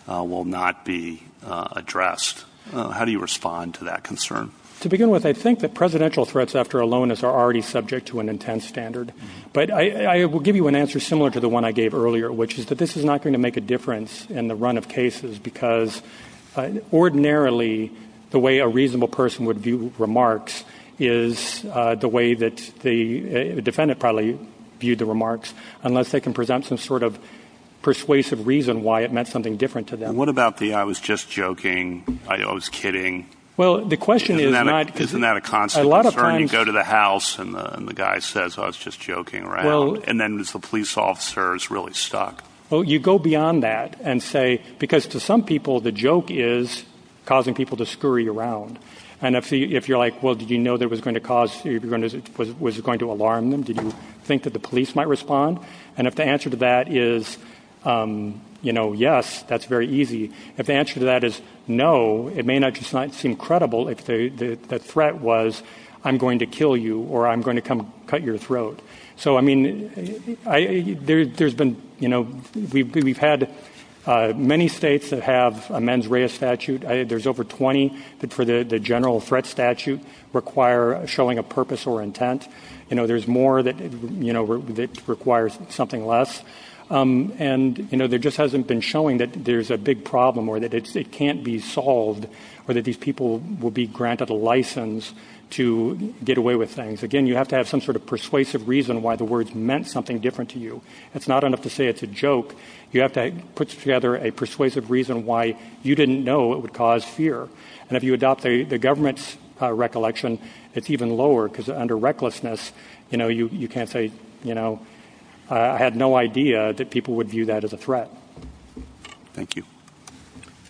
will not be addressed. How do you respond to that concern? To begin with, I think that presidential threats after aloneness are already subject to an intense standard. But I will give you an answer similar to the one I gave earlier, which is that this is not going to make a difference in the run of cases because ordinarily the way a reasonable person would view remarks is the way that the defendant probably viewed the remarks, unless they can present some sort of persuasive reason why it meant something different to them. What about the I was just joking, I was kidding? Isn't that a constant concern? You go to the house and the guy says I was just joking, right? And then the police officer is really stuck. Well, you go beyond that and say, because to some people the joke is causing people to scurry around. And if you're like, well, did you know that it was going to alarm them? Did you think that the police might respond? And if the answer to that is yes, that's very easy. If the answer to that is no, it may not just seem credible if the threat was I'm going to kill you or I'm going to come cut your throat. We've had many states that have a mens rea statute. There's over 20 that for the general threat statute require showing a purpose or intent. There's more that requires something less. And there just hasn't been showing that there's a big problem or that it can't be solved or that these people will be granted a license to get away with things. Again, you have to have some sort of persuasive reason why the words meant something different to you. It's not enough to say it's a joke. You have to put together a persuasive reason why you didn't know it would cause fear. And if you adopt the government's recollection, it's even lower, because under recklessness you can't say I had no idea that people would view that as a threat. Thank you.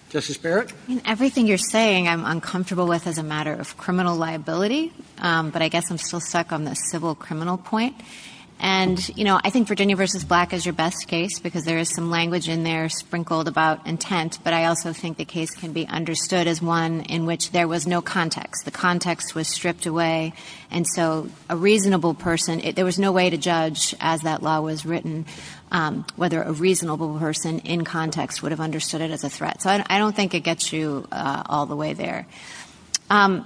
Justice Barrett? Everything you're saying I'm uncomfortable with as a matter of criminal liability, but I guess I'm still stuck on the civil criminal point. And I think Virginia v. Black is your best case, because there is some language in there sprinkled about intent, but I also think the case can be understood as one in which there was no context. The context was stripped away. And so a reasonable person, there was no way to judge as that law was written whether a reasonable person in context would have understood it as a threat. So I don't think it gets you all the way there. I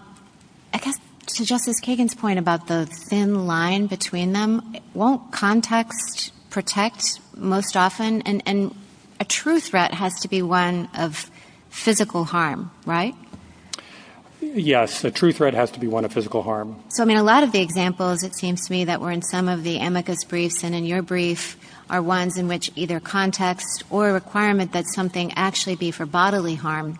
guess to Justice Kagan's point about the thin line between them, won't context protect most often? And a true threat has to be one of physical harm, right? Yes, the true threat has to be one of physical harm. So I mean, a lot of the examples it seems to me that were in some of the amicus briefs and in your brief are ones in which either context or a requirement that something actually be for bodily harm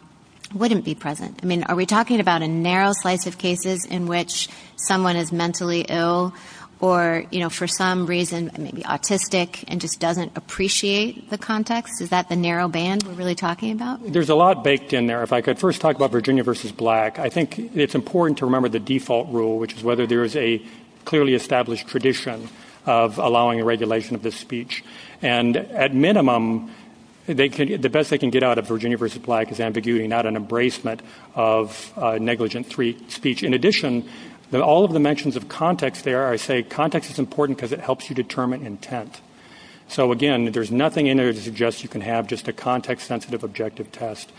wouldn't be present. I mean, are we talking about a narrow slice of cases in which someone is mentally ill or for some reason maybe autistic and just doesn't appreciate the context? Is that the narrow band we're really talking about? There's a lot baked in there. If I could first talk about Virginia v. Black, I think it's important to remember the default rule, which is whether there is a the best they can get out of Virginia v. Black is ambiguity, not an embracement of negligent speech. In addition, all of the mentions of context there, I say context is important because it helps you determine intent. So again, there's nothing in there to suggest you can have just a context-sensitive objective test.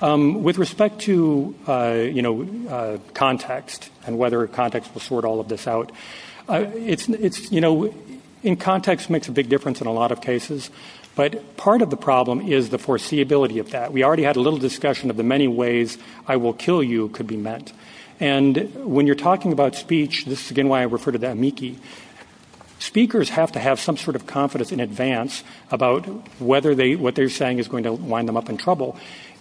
With respect to context and whether context will sort all of this out, in context makes a big difference in a lot of cases, but part of the problem is the foreseeability of that. We already had a little discussion of the many ways I will kill you could be met. And when you're talking about speech, this is again why I refer to that amici, speakers have to have some sort of confidence in advance about whether what they're saying is going to wind them up in trouble.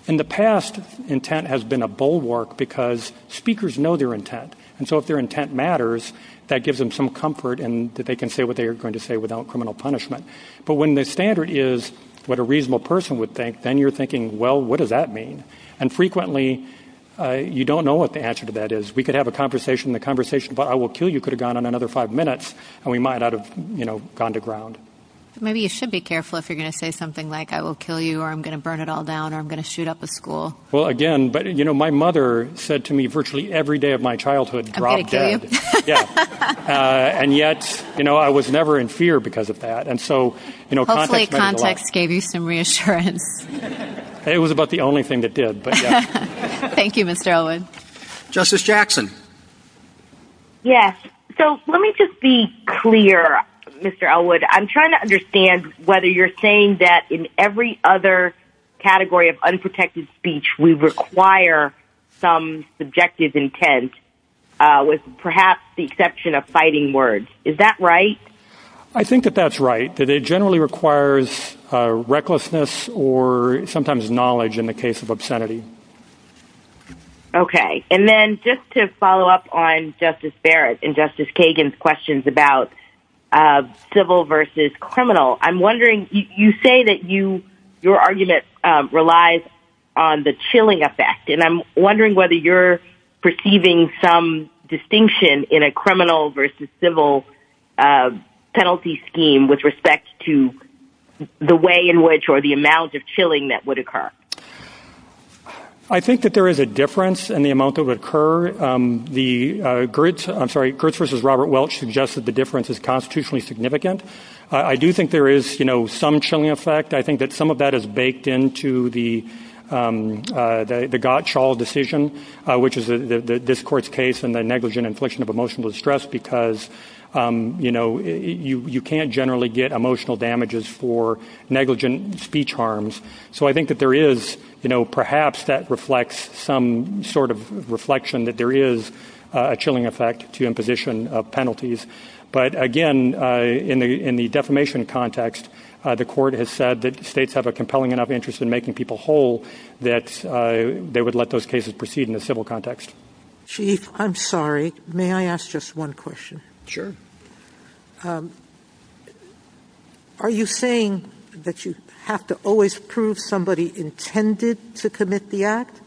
In the past, intent has been a bulwark because speakers know their intent. And so if their intent matters, that gives them some comfort and they can say what they're going to say without criminal punishment. But when the standard is what a reasonable person would think, then you're thinking, well, what does that mean? And frequently you don't know what the answer to that is. We could have a conversation and the conversation about I will kill you could have gone on another five minutes and we might not have gone to ground. Maybe you should be careful if you're going to say something like I will kill you or I'm going to burn it all down or I'm going to shoot up the school. Well, again, but you know, my mother said to me virtually every day of my childhood drop dead. And yet, you know, I was never in fear because of that. And so, you know, context gave you some reassurance. It was about the only thing that did. But thank you, Mr. Allen. Justice Jackson. Yes. So let me just be clear, Mr. Elwood. I'm trying to understand whether you're saying that in every other category of unprotected speech, we require some subjective intent with perhaps the exception of fighting words. Is that right? I think that that's right. That it generally requires recklessness or sometimes knowledge in the case of obscenity. Okay. And then just to follow up on Justice Barrett and Justice Kagan's questions about civil versus criminal. I'm wondering, you say that you your argument relies on the chilling effect. And I'm wondering whether you're perceiving some distinction in a criminal versus civil penalty scheme with respect to the way in which or the amount of chilling that would occur. I think that there is a difference in the amount of occur the grits. I'm sorry. Kurtz versus Robert Welch suggested the difference is constitutionally significant. I do think there is some chilling effect. I think that some of that is baked into the the Gottschall decision, which is this court's case and the negligent infliction of emotional distress, because you can't generally get emotional damages for negligent speech harms. So I think that there is perhaps that reflects some sort of reflection that there is a chilling effect to imposition of penalties. But again, in the defamation context, the court has said that states have a compelling enough interest in making people indication as a whole that they would let those cases proceed in the civil context. Chief, I'm sorry. May I ask just one question? Sure. Are you saying that you have to always prove somebody intended to commit the act?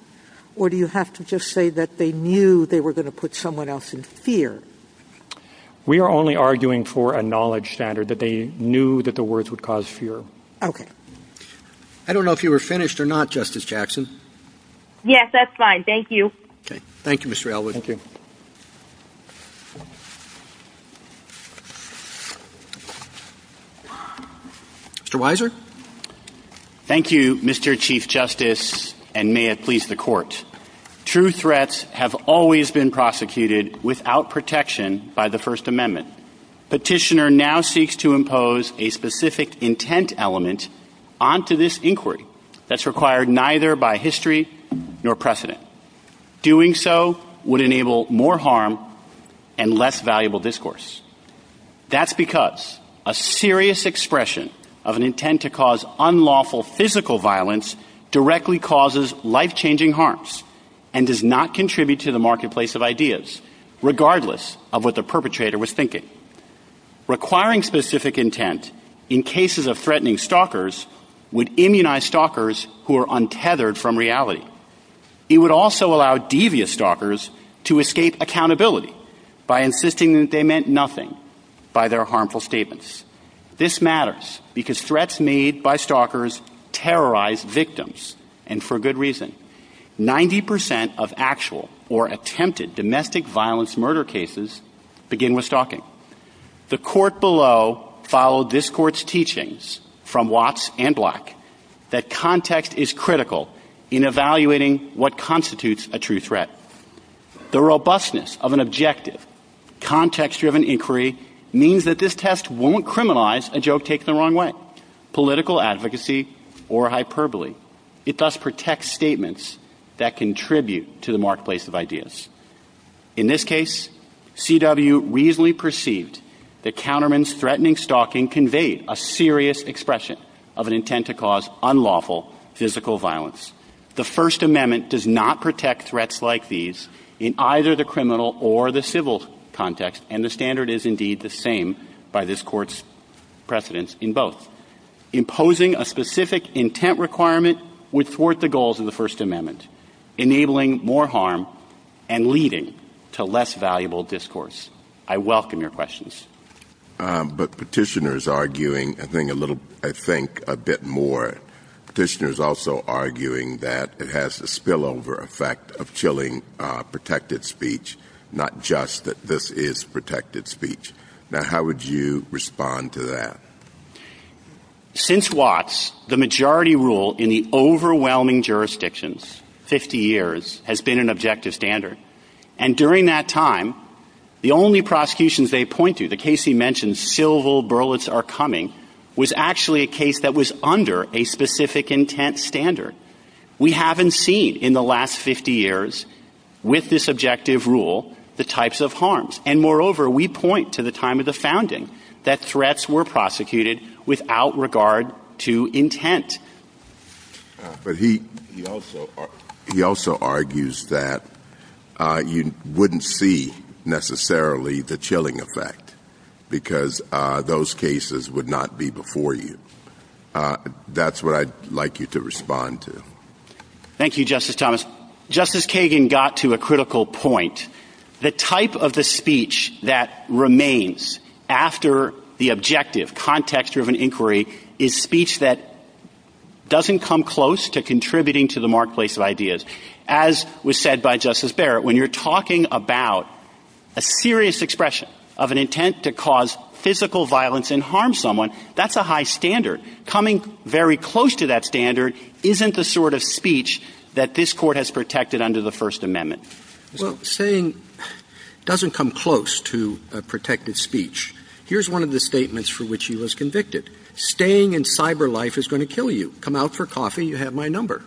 Or do you have to just say that they knew they were going to put someone else in fear? We are only arguing for a knowledge standard that they knew that the words would cause fear. I don't know if you were finished or not, Justice Jackson. Yes, that's fine. Thank you. Thank you, Mr. Wiser. Thank you, Mr. Chief Justice, and may it please the court. True threats have always been prosecuted without protection by the First Amendment. Petitioner now seeks to impose a specific intent element onto this inquiry that's required neither by history nor precedent. Doing so would enable more harm and less valuable discourse. That's because a serious expression of an intent to cause unlawful physical violence directly causes life-changing harms and does not contribute to the marketplace of ideas, regardless of what the perpetrator was thinking. Requiring specific intent in cases of threatening stalkers would immunize stalkers who are untethered from reality. It would also allow devious stalkers to escape accountability by insisting that they meant nothing by their harmful statements. This matters because threats made by stalkers terrorize victims, and for good reason. Ninety percent of actual or attempted domestic violence murder cases begin with stalking. The court below followed this court's teachings from Watts and The robustness of an objective, context-driven inquiry means that this test won't criminalize a joke taken the wrong way, political advocacy, or hyperbole. It thus protects statements that contribute to the marketplace of ideas. In this case, C.W. reasonably perceived that counterman's threatening stalking conveyed a serious expression of an intent to cause unlawful physical violence. The First Amendment does not protect threats like these in either the criminal or the civil context, and the standard is indeed the same by this court's precedence in both. Imposing a specific intent requirement would thwart the goals of the First Amendment, enabling more harm and leading to less valuable discourse. I welcome your questions. But petitioners arguing, I think a little, I think a bit more. Petitioners also arguing that it has the spillover effect of chilling protected speech, not just that this is protected speech. Now, how would you respond to that? Since Watts, the majority rule in the overwhelming jurisdictions, 50 years, has been an objective standard. And during that time, the only prosecutions they point to, the case he mentioned, civil burlats are coming, was actually a case that was under a specific intent standard. We haven't seen in the last 50 years with this objective rule, the types of harms. And moreover, we point to the time of the founding that threats were prosecuted without regard to intent. But he also argues that you wouldn't see necessarily the chilling effect because those cases would not be before you. That's what I'd like you to respond to. Thank you, Justice Thomas. Justice Kagan got to a critical point. The type of the speech that remains after the first amendment doesn't come close to contributing to the marketplace of ideas. As was said by Justice Barrett, when you're talking about a serious expression of an intent to cause physical violence and harm someone, that's a high standard. Coming very close to that standard isn't the sort of speech that this court has protected under the First Amendment. Well, saying doesn't come close to a protected speech. Here's one of the statements for which he was convicted. Staying in cyber life is going to kill you. Come out for coffee, you have my number.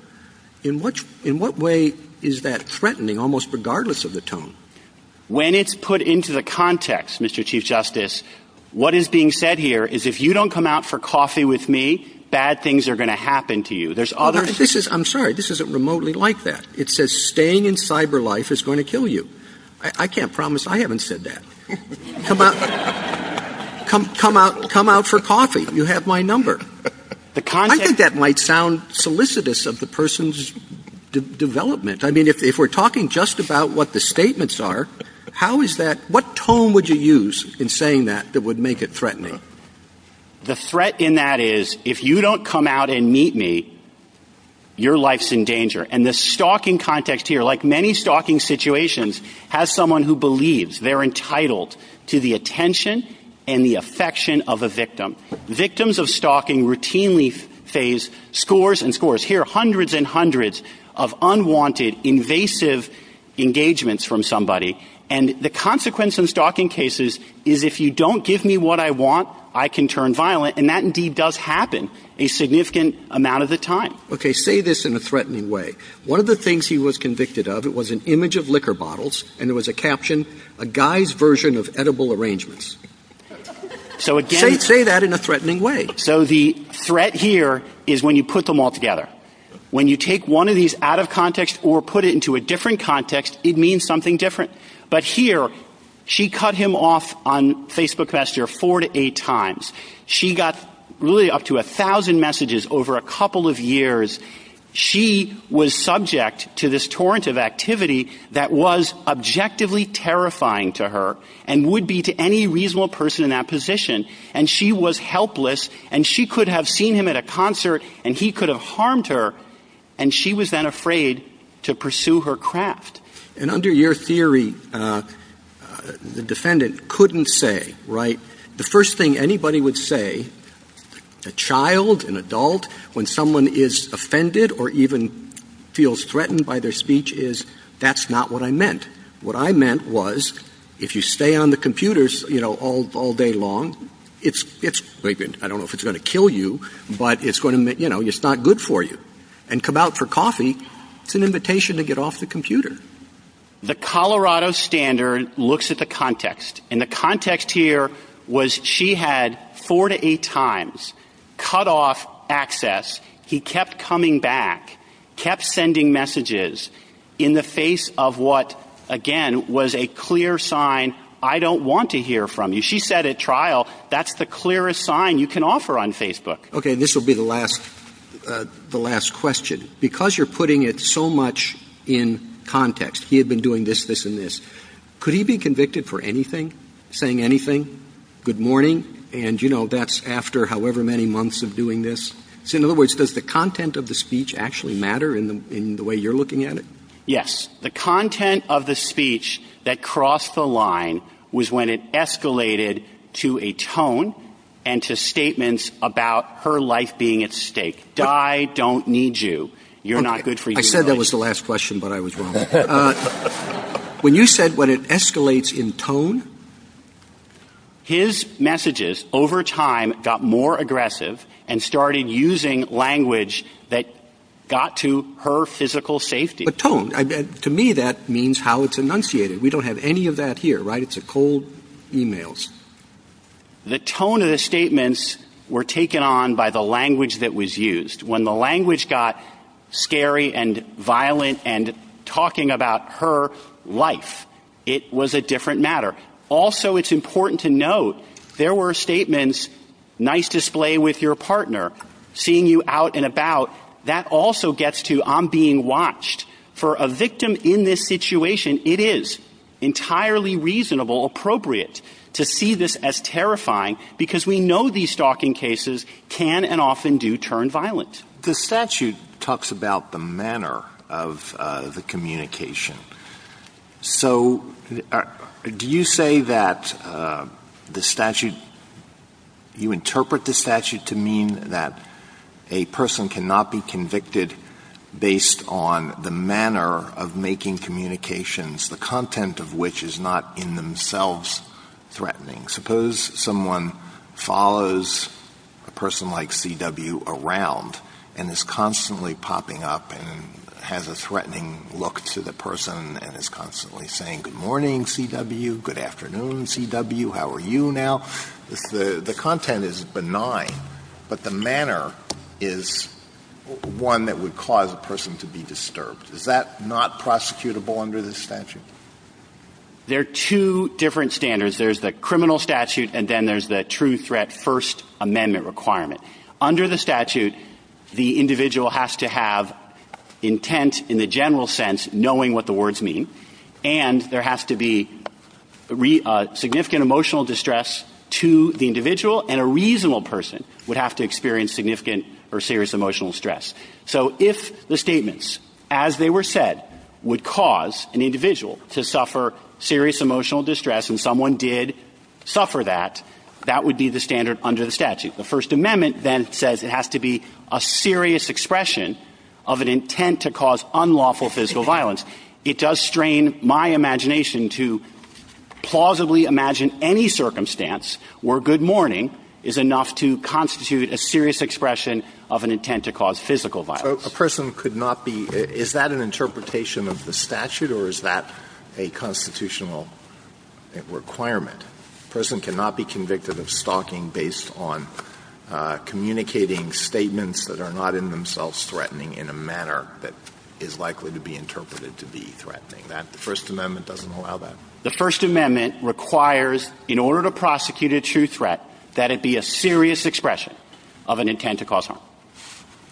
In what way is that threatening, almost regardless of the tone? When it's put into the context, Mr. Chief Justice, what is being said here is if you don't come out for coffee with me, bad things are going to happen to you. I'm sorry, this isn't remotely like that. It says staying in cyber life is going to kill you. I can't promise I haven't said that. Come out for coffee, you have my number. I think that might sound solicitous of the person's development. I mean, if we're talking just about what the statements are, what tone would you use in saying that that would make it threatening? The threat in that is if you don't come out and Now, in these stalking situations, has someone who believes they're entitled to the attention and the affection of a victim. Victims of stalking routinely face scores and scores. Here are hundreds and hundreds of unwanted, invasive engagements from somebody. And the consequence in stalking cases is if you don't give me what I want, I can turn violent. And that indeed does happen a significant amount of the time. Okay, say this in a threatening way. One of the things he was convicted of, it was an image of liquor bottles, and there was a caption, a guy's version of edible arrangements. Say that in a threatening way. So the threat here is when you put them all together. When you take one of these out of context or put it into a different context, it means something different. But here, she cut him off on Facebook Messenger four to eight times. She got really up to a thousand messages over a couple of years. She was subject to this torrent of activity that was objectively terrifying to her and would be to any reasonable person in that position. And she was helpless, and she could have seen him at a concert, and he could have seen her, and he could have seen her, and he could have harmed her. And she was then afraid to pursue her craft. And under your theory, the defendant couldn't say, right? The first thing anybody would say, a child, an adult, when someone is offended or even feels threatened by their speech is, that's not what I meant. What I meant was, if you stay on the computers all day long, I don't know if it's going to kill you, but it's not good for you. And come out for coffee, it's an invitation to get off the computer. The Colorado standard looks at the context. And the context here was she had four to eight times cutoff access. He kept coming back, kept sending messages in the face of what, again, was a clear sign, I don't want to hear from you. She said at trial, that's the clearest sign you can offer on Facebook. OK, and this will be the last question. Because you're putting it so much in context, he had been doing this, this, and this, could he be convicted for anything, saying anything, good morning, and that's after however many months of doing this? In other words, does the content of the speech actually matter in the way you're looking at it? Yes. The content of the speech that crossed the line was when it escalated to a tone and to statements about her life being at stake. I don't need you. You're not good for me. I said that was the last question, but I was wrong. When you said when it escalates in tone, his messages over time got more aggressive and started using language that got to her physical safety. But tone, to me that means how it's enunciated. We don't have any of that here, right? It's a cold email. The tone of the statements were taken on by the language that was used. When the language got scary and violent and talking about her life, it was a different matter. Also, it's important to note, there were statements, nice display with your partner, seeing you out and about, that also gets to I'm being watched. For a victim in this situation, it is entirely reasonable, appropriate, to see this as terrifying, because we know these stalking cases can and often do turn violent. The statute talks about the manner of the communication. So, do you say that the statute, you interpret the statute to mean that a person cannot be convicted based on the manner of making communications, the content of which is not in themselves threatening? Suppose someone follows a person like C.W. around and is constantly popping up and has a threatening look to the person and is constantly saying good morning C.W., good afternoon C.W., how are you now? The content is benign, but the manner is one that would cause a person to be disturbed. Is that not prosecutable under the statute? There are two different standards. There's the criminal statute and then there's the true threat first amendment requirement. Under the statute, the individual has to have intent in the general sense, knowing what the words mean, and there has to be significant emotional distress to the individual and a reasonable person would have to experience significant or serious emotional stress. So if the statements as they were said would cause an individual to suffer serious emotional distress and someone did suffer that, that would be the standard under the statute. The first amendment then says it has to be a serious expression of an intent to cause unlawful physical violence. It does strain my imagination to plausibly imagine any circumstance where good morning is enough to constitute a serious expression of an intent to cause physical violence. Is that an interpretation of the statute or is that a constitutional requirement? A person cannot be convicted of stalking based on communicating statements that are not in themselves threatening in a manner that is The first amendment requires in order to prosecute a true threat that it be a serious expression of an intent to cause harm.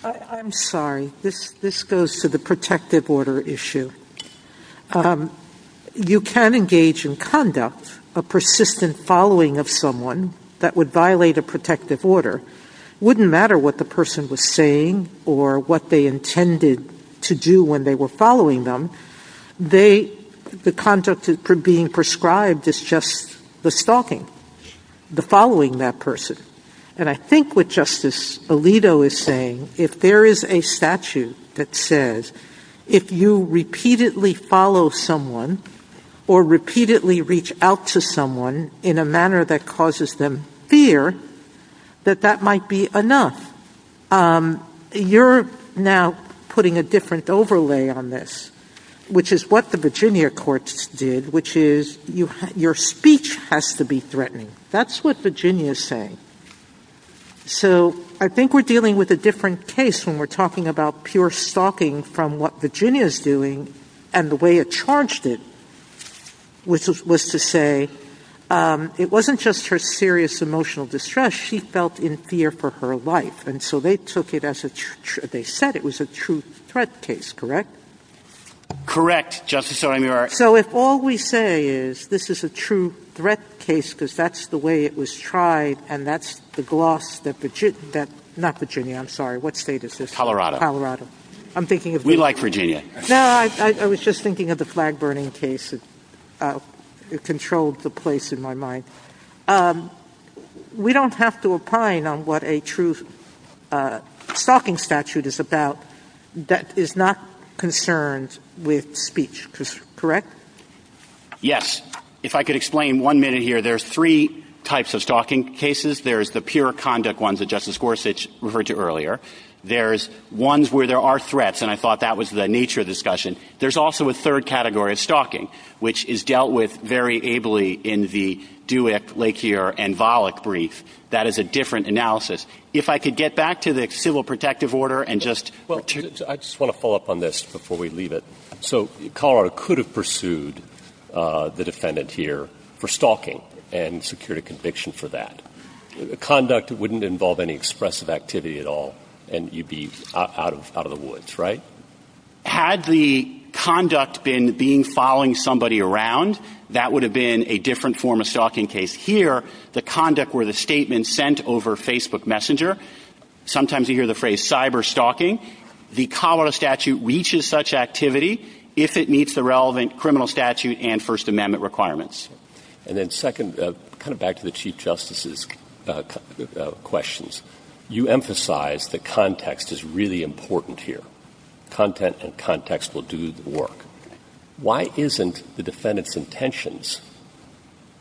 I'm sorry. This goes to the protective order issue. You can engage in conduct of persistent following of someone that would violate a protective order. It wouldn't matter what the person was saying or what they The consequence of being prescribed is just the stalking. The following that person. And I think what Justice Alito is saying, if there is a statute that says if you repeatedly follow someone or repeatedly reach out to someone in a manner that causes them You are putting a different overlay on this. And I fear that that might be enough. You are now putting a different overlay on this, which is what the Virginia courts did, which is your speech has to be threatened. That is what Virginia is saying. So I think we're dealing with a different case when we're talking about pure stalking from what Virginia is doing and the way it charged it which was to say it wasn't just her serious emotional distress. She felt in fear for her life. And so they took it as they said it was a true threat case. Correct. Correct. Justice. So if all we have to say is this is a true threat case because that's the way it was tried and that's the gloss that that not Virginia. I'm sorry. What state is this Colorado. I'm thinking of me like Virginia. No, I was just thinking of the flag burning case. It controlled the place in my mind. We don't have to opine on what a true stalking statute is about. That is not concerns with speech. Correct. Yes. If I could explain one minute here. There's three types of stalking cases. There's the pure conduct ones that Justice Gorsuch referred to earlier. There's ones where there are threats. And I thought that was the nature of discussion. There's also a third category of stalking which is dealt with very ably in the do it like here and that is a different analysis. If I could get back to the civil protective order and just I just want to follow up on this before we leave it. So Colorado could have pursued the defendant here for stalking and secured a conviction for that conduct. It wouldn't involve any expressive activity at all. And you'd be out of out of the woods right. Had the conduct been being following somebody around that would have been a different form of stalking case here. The conduct where the statement sent over Facebook Messenger. Sometimes you hear the phrase cyber stalking. The Colorado statute reaches such activity if it meets the relevant criminal statute and First Amendment requirements. And then second kind of back to the Chief Justice's questions. You emphasize the context is really important here. Content and context will do the work. Why isn't the defendant's intentions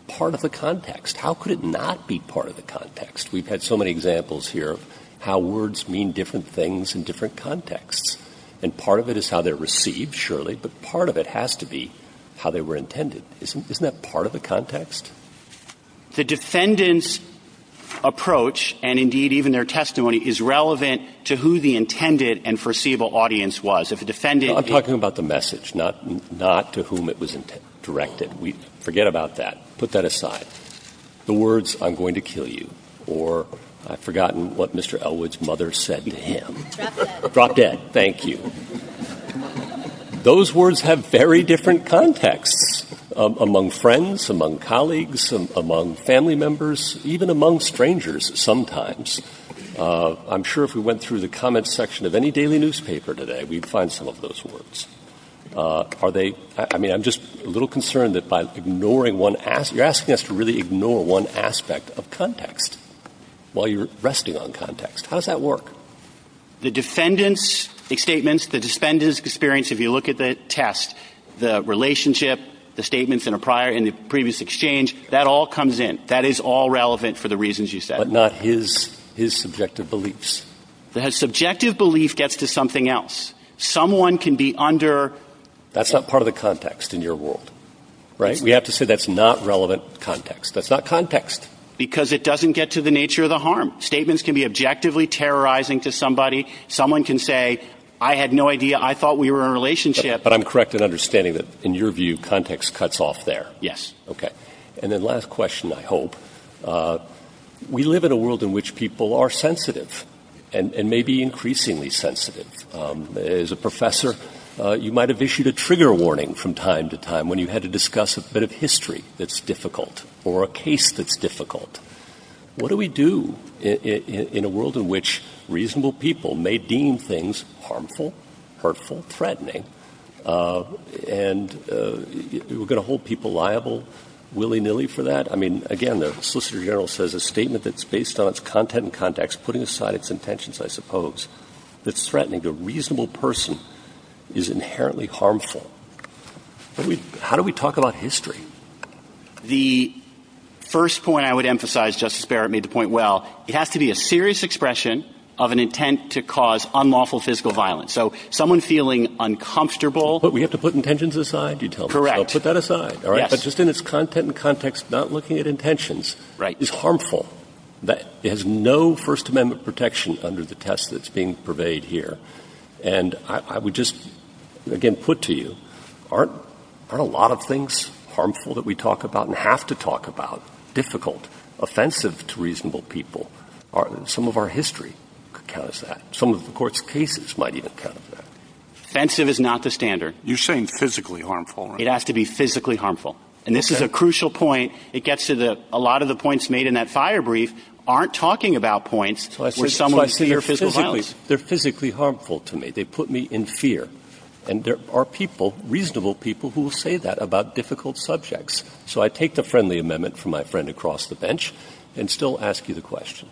part of the context. How could it not be part of the context. We've had so many examples here how words mean different things in different contexts. And part of it is how they're received surely. But part of it has to be how they were intended. Isn't that part of the context. The intended and foreseeable audience was a defendant talking about the message not to whom it was directed. We forget about that. Put that aside. The words I'm going to kill you or I've forgotten what Mr. Elwood's mother said to him. Drop dead. Thank you. Those words have very different context among friends among colleagues among family members even among strangers. Sometimes I'm sure if we went through the comments section of any daily newspaper today we'd find some of those words. Are they. I mean I'm just a little concerned that by ignoring one you're asking us to really ignore one aspect of context while you're resting on context. How does that work. The defendants statements the defendants experience if you look at the test the relationship the statements in a prior in the previous exchange that all comes in. That is all relevant for the reasons you said not his his subjective beliefs that has subjective belief gets to something else. Someone can be under. That's not part of the context in your world. Right. We have to say that's not relevant context. That's not context because it doesn't get to the nature of the harm. Statements can be objectively terrorizing to somebody. Someone can say I had no idea. I thought we were in a relationship but I'm correct in understanding that in your view context cuts off there. Yes. OK. And the last question I hope we live in a world in which people are sensitive and maybe increasingly sensitive. As a professor you might have issued a trigger warning from time to time when you had to discuss a bit of history that's difficult or a case that's difficult. What do we do in a world in which reasonable people may deem things harmful hurtful threatening and we're going to hold people liable willy nilly for that. I mean again the solicitor general says a statement that's based on its content and context putting aside its intentions I suppose it's threatening the reasonable person is inherently harmful. How do we talk about history. The first point I would emphasize Justice Barrett made the point well it has to be a serious expression of an intent to cause unlawful physical violence. So someone feeling uncomfortable but we have to put intentions aside. Correct. Put that aside. All right. That's just in its content and context not looking at intentions. Right. It's harmful that it has no First Amendment protection under the test that's being surveyed here. And I would just again put to you aren't a lot of things harmful that we talk about and have to talk about. Difficult offensive to reasonable people are some of our history because that some of the courts cases might even kind of offensive is not the standard. You're saying physically harmful. It has to be physically harmful. And this is a crucial point. It gets to the a lot of the points made in that fire brief aren't talking about points. So I said someone's here physically. They're physically harmful to me. They put me in fear and there are people reasonable people who say that about difficult subjects. So I take the friendly amendment from my friend across the bench and still ask you the question.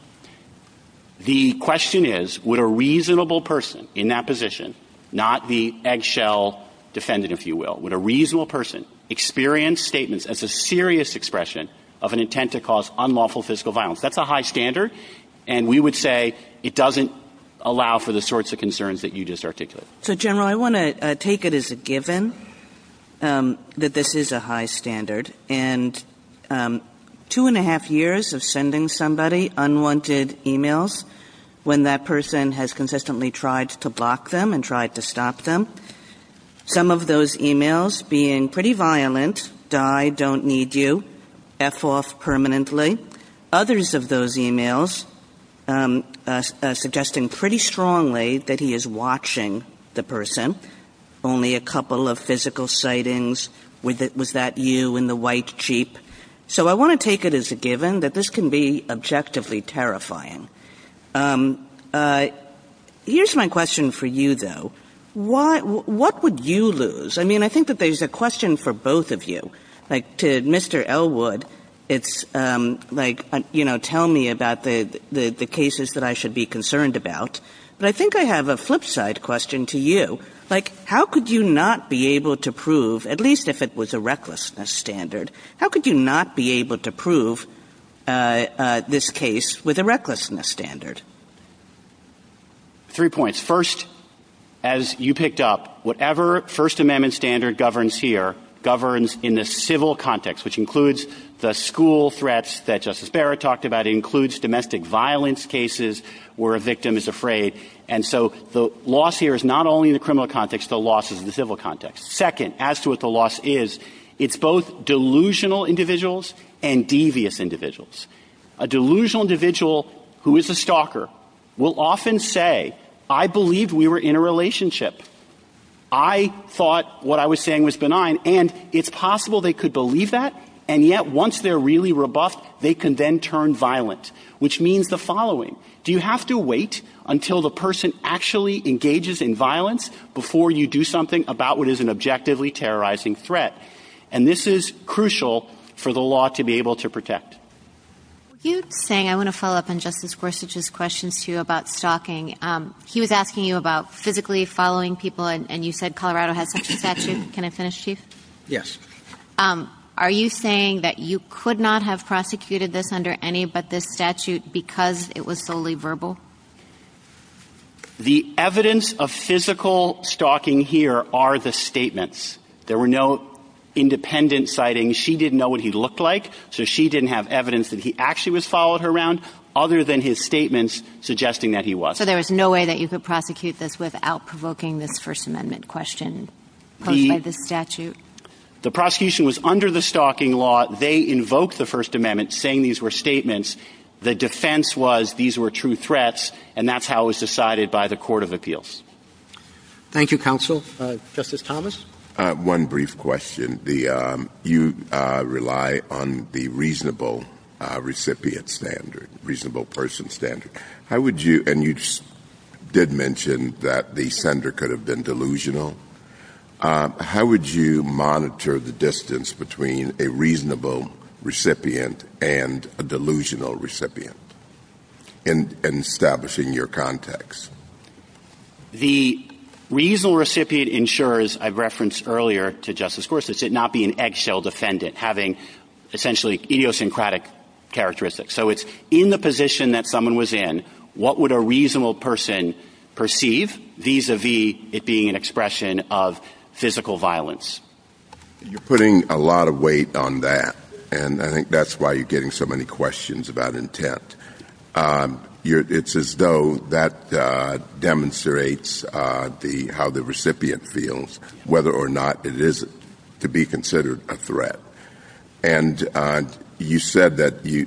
The question is would a reasonable person in that position not the eggshell defendant if you will with a reasonable person experience statements as a serious expression of an intent to cause unlawful physical violence. That's a high standard. And we would say it doesn't allow for the sorts of concerns that you just articulated. So general I want to take it as a given that this is a high standard and two and a half years of sending somebody unwanted e-mails when that person has consistently tried to block them and tried to stop them. Some of those e-mails being pretty violent. Die. Don't need you. F off permanently. Others of those e-mails suggesting pretty strongly that he is watching the person. Only a couple of physical sightings with it was that you in the white Jeep. So I want to take it as a given that this can be objectively terrifying. Here's my question for you though. Why. What would you lose. I mean I think that there's a question for both of you. Mr. Elwood it's like you know tell me about the cases that I should be concerned about. But I think I have a flip side question to you. Like how could you not be able to prove at least if it was a recklessness standard. How could you not be able to prove this case with a recklessness standard. Three points first. As you picked up whatever First Amendment standard governs here governs in the civil context which includes the school threats that Justice Barrett talked about includes domestic violence cases where a victim is afraid. And so the loss here is not only the criminal context the losses in the civil context. Second as to what the loss is it's both delusional individuals and devious individuals a delusional individual who is a stalker will often say I believe we were in a relationship. I thought what I was saying was benign. And it's possible they could believe that. And yet once they're really robust they can then turn violent which means the following. Do you have to wait until the person actually engages in violence before you do something about what is an objectively terrorizing threat. And this is crucial for the law to be able to protect you saying I want to follow up on Justice Gorsuch's questions to you about stalking. He was asking you about physically following people and you said Colorado has such a statute. Can I finish please. Yes. Are you saying that you could not have prosecuted this under any but this statute because it was fully verbal the evidence of physical stalking here are the statements. There were no independent sightings. She didn't know what he looked like. So she didn't have evidence that he actually was followed her around other than his statements suggesting that he was. So there is no way that you could prosecute this without provoking this First Amendment question. The statute the prosecution was under the stalking law. They invoked the First Amendment saying these were statements. The defense was these were true threats and that's how it was decided by the Court of Appeals. Thank you counsel. Justice Thomas one brief question. The you rely on the reasonable recipient standard reasonable person standard. How would you and you did mention that the senator could have been delusional. How would you monitor the distance between a reasonable recipient and a delusional recipient in establishing your context the reasonable recipient ensures I've referenced earlier to Justice Gorsuch did not be an eggshell defendant having essentially idiosyncratic characteristics. So it's in the position that someone was in. What would a reasonable person perceive vis a vis it being an expression of physical violence you're putting a lot of weight on that. And I think that's why you're getting so many questions about intent. It's as though that demonstrates the how the recipient feels whether or not it is to be considered a threat. And you said that you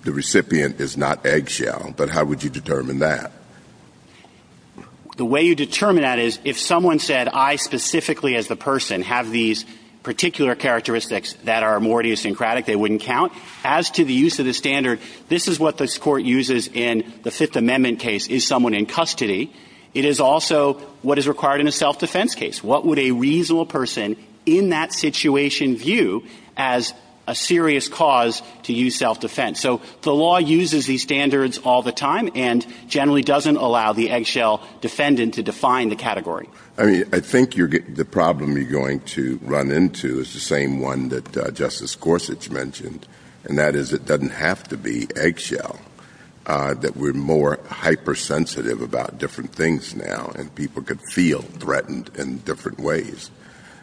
the recipient is not eggshell. But how would you determine that the way you determine that is if someone said I specifically as the person have these particular characteristics that are more idiosyncratic they wouldn't count as to the use of the standard. This is what the court uses in the Fifth Amendment case is someone in custody. It is also what is required in a self-defense case. What would a reasonable person in that situation view as a serious cause to use self-defense. So the law uses these standards all the time and generally doesn't allow the eggshell defendant to define the category. I think you're getting the problem you're going to run into is the same one that Justice Gorsuch mentioned and that is it doesn't have to be eggshell. That we're more hypersensitive about different things now and people could feel threatened in different ways.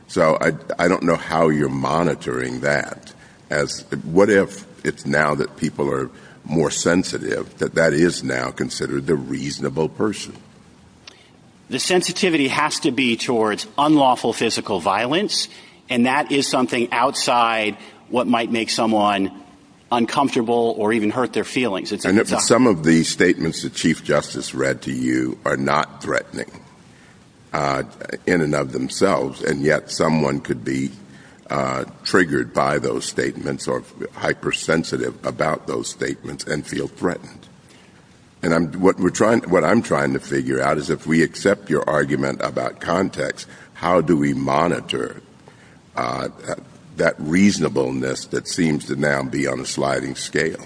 So I don't know how you're monitoring that as what if it's now that people are more sensitive that that is now considered the reasonable person. The sensitivity has to be towards unlawful physical violence and that is something outside what might make someone uncomfortable or even hurt their feelings. Some of the statements that Chief Justice read to you are not threatening in and of themselves and yet someone could be triggered by those statements or hypersensitive about those statements and feel threatened. And what I'm trying to figure out is if we accept your argument about context, how do we monitor that reasonableness that seems to now be on a sliding scale?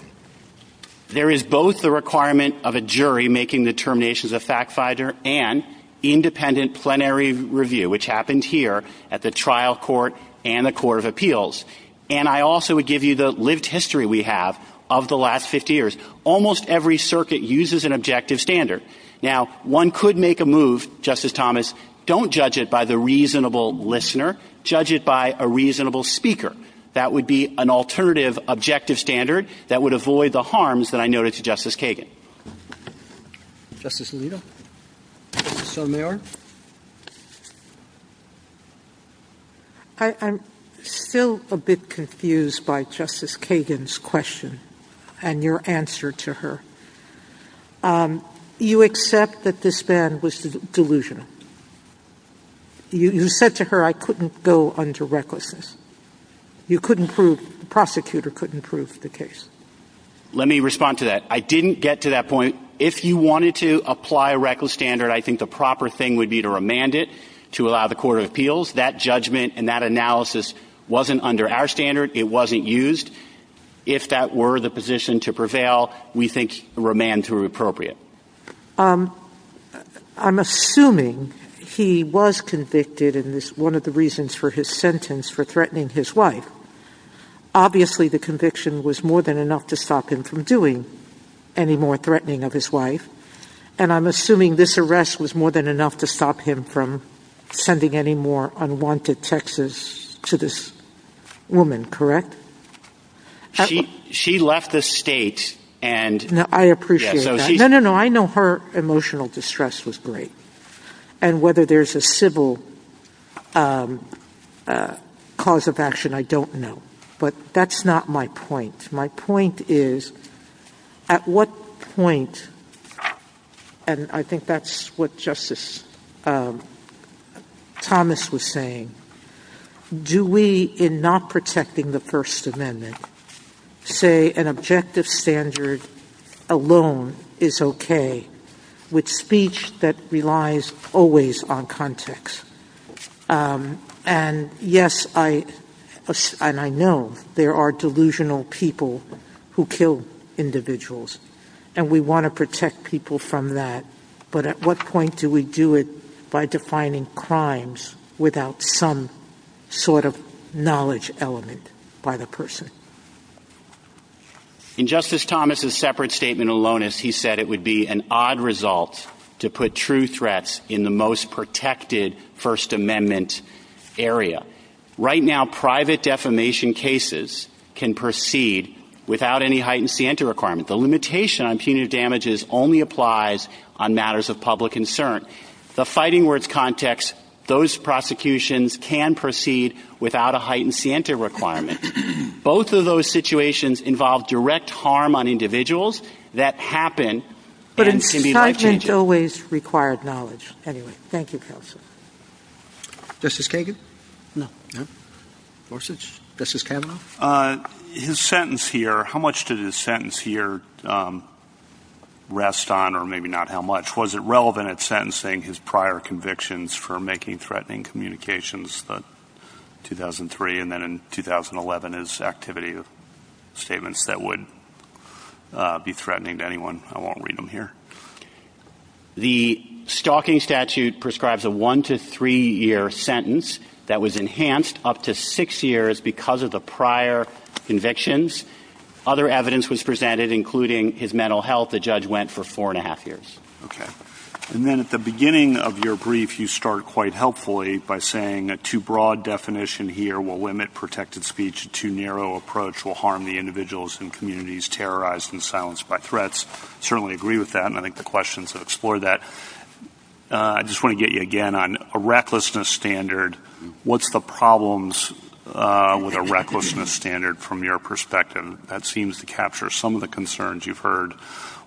There is both the requirement of a jury making determinations of fact-finder and independent plenary review which happens here at the trial court and the court of appeals. And I also would give you the lived history we have of the last 50 years. Almost every circuit uses an objective standard. Now one could make a move, Justice Thomas, don't judge it by the reasonable listener, judge it by a reasonable speaker. That would be an alternative objective standard that would avoid the harms that I noted to Justice Kagan. Justice Alito. I'm still a bit confused by Justice Kagan's question and your answer to her. You accept that this ban was delusional. You said to her I couldn't go under recklessness. You couldn't prove, the prosecutor couldn't prove the case. Let me respond to that. I didn't get to that point. If you wanted to apply a reckless standard, I think the proper thing would be to remand it to allow the court of appeals. That judgment and that analysis wasn't under our standard. It wasn't used. If that were the position to prevail, we think remand would be appropriate. I'm assuming he was convicted and one of the reasons for his sentence for threatening his wife, obviously the conviction was more than enough to stop him from doing any more threatening of his wife. I'm assuming this arrest was more than enough to stop him from sending any more unwanted texts to this woman, correct? She left the state. I know her emotional distress was great. And whether there's a civil cause of action, I don't know. But that's not my point. My point is at what point, and I think that's what Justice Thomas was saying, do we in not protecting the First Amendment say an objective standard alone is okay with speech that relies always on context? And yes, and I know there are delusional people who kill individuals and we want to protect people from that. But at what point do we do it by defining crimes without some sort of knowledge element by the person? In Justice Thomas' separate statement alone, he said it would be an odd result to put true threats in the most protected First Amendment area. Right now, private defamation cases can proceed without any heightened sienta requirement. The limitation on punitive damages only applies on matters of public concern. The fighting words context, those prosecutions can proceed without a heightened sienta requirement. Both of those situations involve direct harm on individuals that happen. Justice Kagan? Justice Kagan? His sentence here, how much does his sentence here rest on or maybe not how much? Was it relevant at sentencing his prior convictions for making threatening communications in 2003 and then in 2011 as activity of statements that would be threatening to the public? The stalking statute prescribes a one to three year sentence that was enhanced up to six years because of the prior convictions. Other evidence was presented, including his mental health. The judge went for four and a half years. And then at the beginning of your brief, you start quite helpfully by saying a too broad definition here will limit protected speech. A too narrow approach will harm the individuals and communities terrorized and silenced by threats. Certainly agree with that, and I think the questions have explored that. I just want to get you again on a recklessness standard. What's the problems with a recklessness standard from your perspective that seems to capture some of the concerns you've heard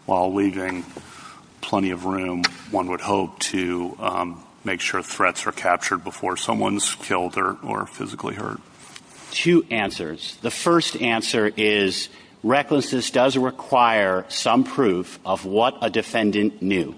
while leaving the defendant? Two answers. The first answer is recklessness does require some proof of what a defendant knew.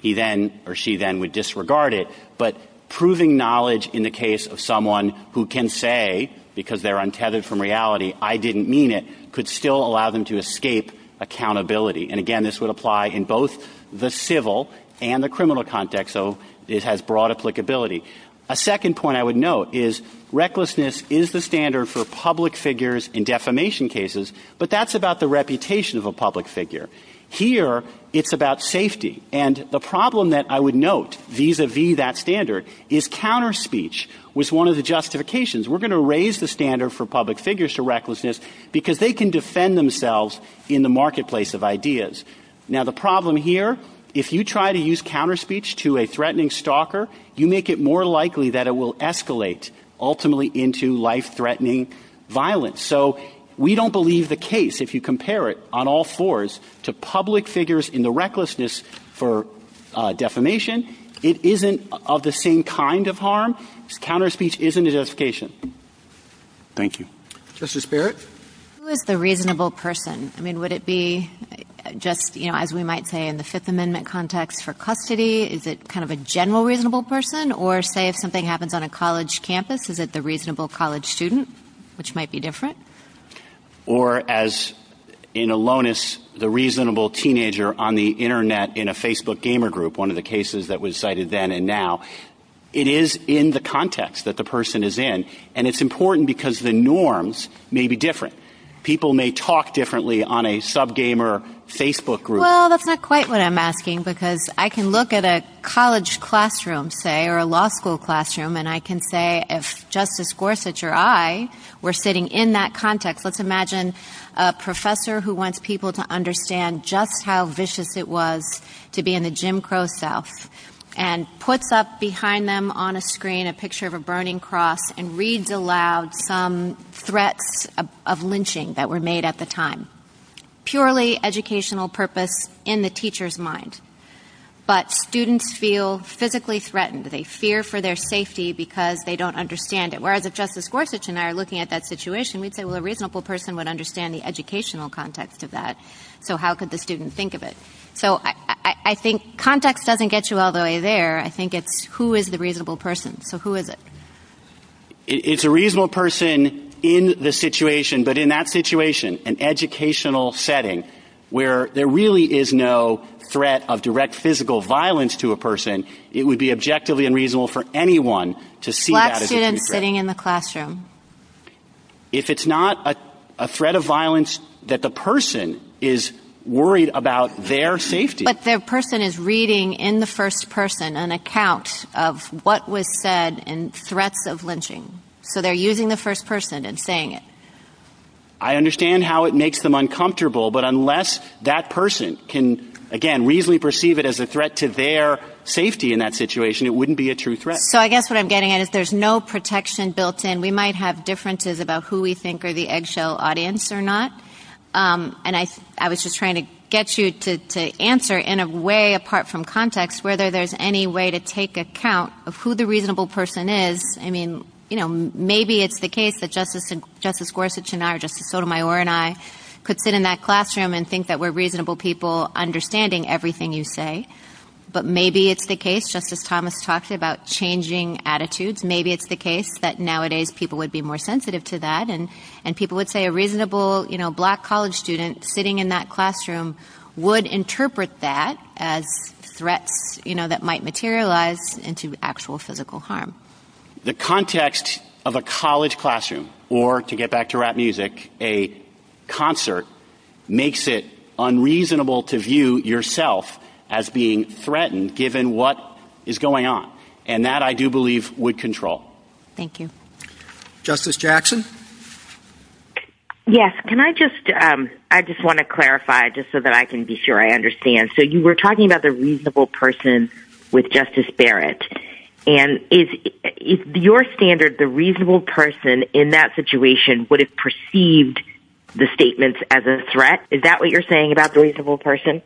He then or she then would disregard it. But proving knowledge in the case of someone who can say because they're untethered from reality, I didn't mean it, could still allow them to escape accountability. And again, this would apply in both the civil and the criminal context. So it has broad applicability. A second point I would note is recklessness is the standard for public figures in defamation cases, but that's about the reputation of a public figure. Here it's about safety. And the problem that I would note vis-a-vis that standard is we're going to raise the standard for public figures to recklessness because they can defend themselves in the marketplace of ideas. Now the problem here, if you try to use counter speech to a threatening stalker, you make it more likely that it will escalate ultimately into life-threatening violence. So we don't believe the case, if you compare it on all fours, to public threatening, that's a sign of harm. Counter speech isn't a defamation. Thank you. Mr. Sparrett? Who is the reasonable person? Would it be just as we might say in the Fifth Amendment context for custody, is it kind of a general reasonable person or say if something happens on a college campus is it the reasonable college student, which might be different? Or as in Alonis, the reasonable teenager on the Internet in a Facebook gamer group, one of the cases that was cited then and now, it is in the context that the person is in and it's important because the norms may be different. People may talk differently on a sub-gamer Facebook group. Well, that's not quite what I'm asking because I can look at a college classroom say or a law school classroom and I can say if Justice Gorsuch or I were sitting in that context, let's imagine a professor who wants people to understand just how vicious it was to be in the Jim Crow South and puts up behind them on a screen a picture of a burning cross and reads aloud some threats of lynching that were made at the time. Purely educational purpose in the teacher's mind. But students feel physically threatened. They fear for their safety because they don't understand it. Whereas if Justice Gorsuch and I are looking at that situation, we'd say well a reasonable person would understand the educational context of that. So how could the student think of it? So I think context doesn't get you all the way there. I think it's who is the reasonable person. So who is it? It's a reasonable person in the situation. But in that situation, an educational setting where there really is no threat of direct physical violence to a person, it would be objectively unreasonable for anyone to see that as a threat. If it's not a threat of violence that the person is worried about their safety. But the person is reading in the first person an account of what was said and threats of lynching. So they're using the first person and saying it. I understand how it makes them uncomfortable, but unless that person can, again, reasonably perceive it as a threat to their safety in that situation, it wouldn't be a true threat. So I guess what I'm getting at is there's no protection built in. We might have differences about who we think are the eggshell audience or not. And I was just trying to get you to answer in a way apart from context whether there's any way to take account of who the reasonable person is. I mean, maybe it's the case that Justice Gorsuch and I or Justice Sotomayor and I could sit in that classroom and think that we're reasonable people understanding everything you say. But maybe it's the case, Justice Thomas talks about changing attitudes. Maybe it's the case that nowadays people would be more sensitive to that and people would say a reasonable black college student sitting in that classroom would interpret that as a threat that might materialize into actual physical harm. The context of a college classroom or, to get back to rap music, a concert makes it unreasonable to view yourself as being threatened given what is going on. And that I do believe would control. Thank you. Justice Jackson? Yes. Can I just, I just want to clarify just so that I can be sure I understand. So you were talking about the reasonable person with Justice Barrett. And is your standard the reasonable person in that situation would have perceived the statements as a threat? Is that what you're saying about the reasonable person?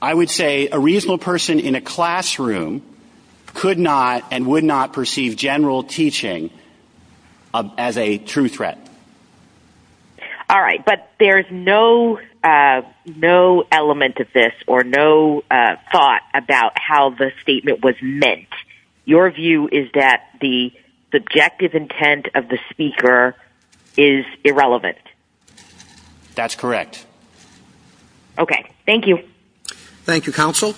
I would say a reasonable person in a classroom could not and would not perceive general teaching as a true threat. All right. But there's no element of this or no thought about how the statement was meant. Your view is that the subjective intent of the speaker is irrelevant. That's correct. Okay. Thank you. Thank you, Counsel.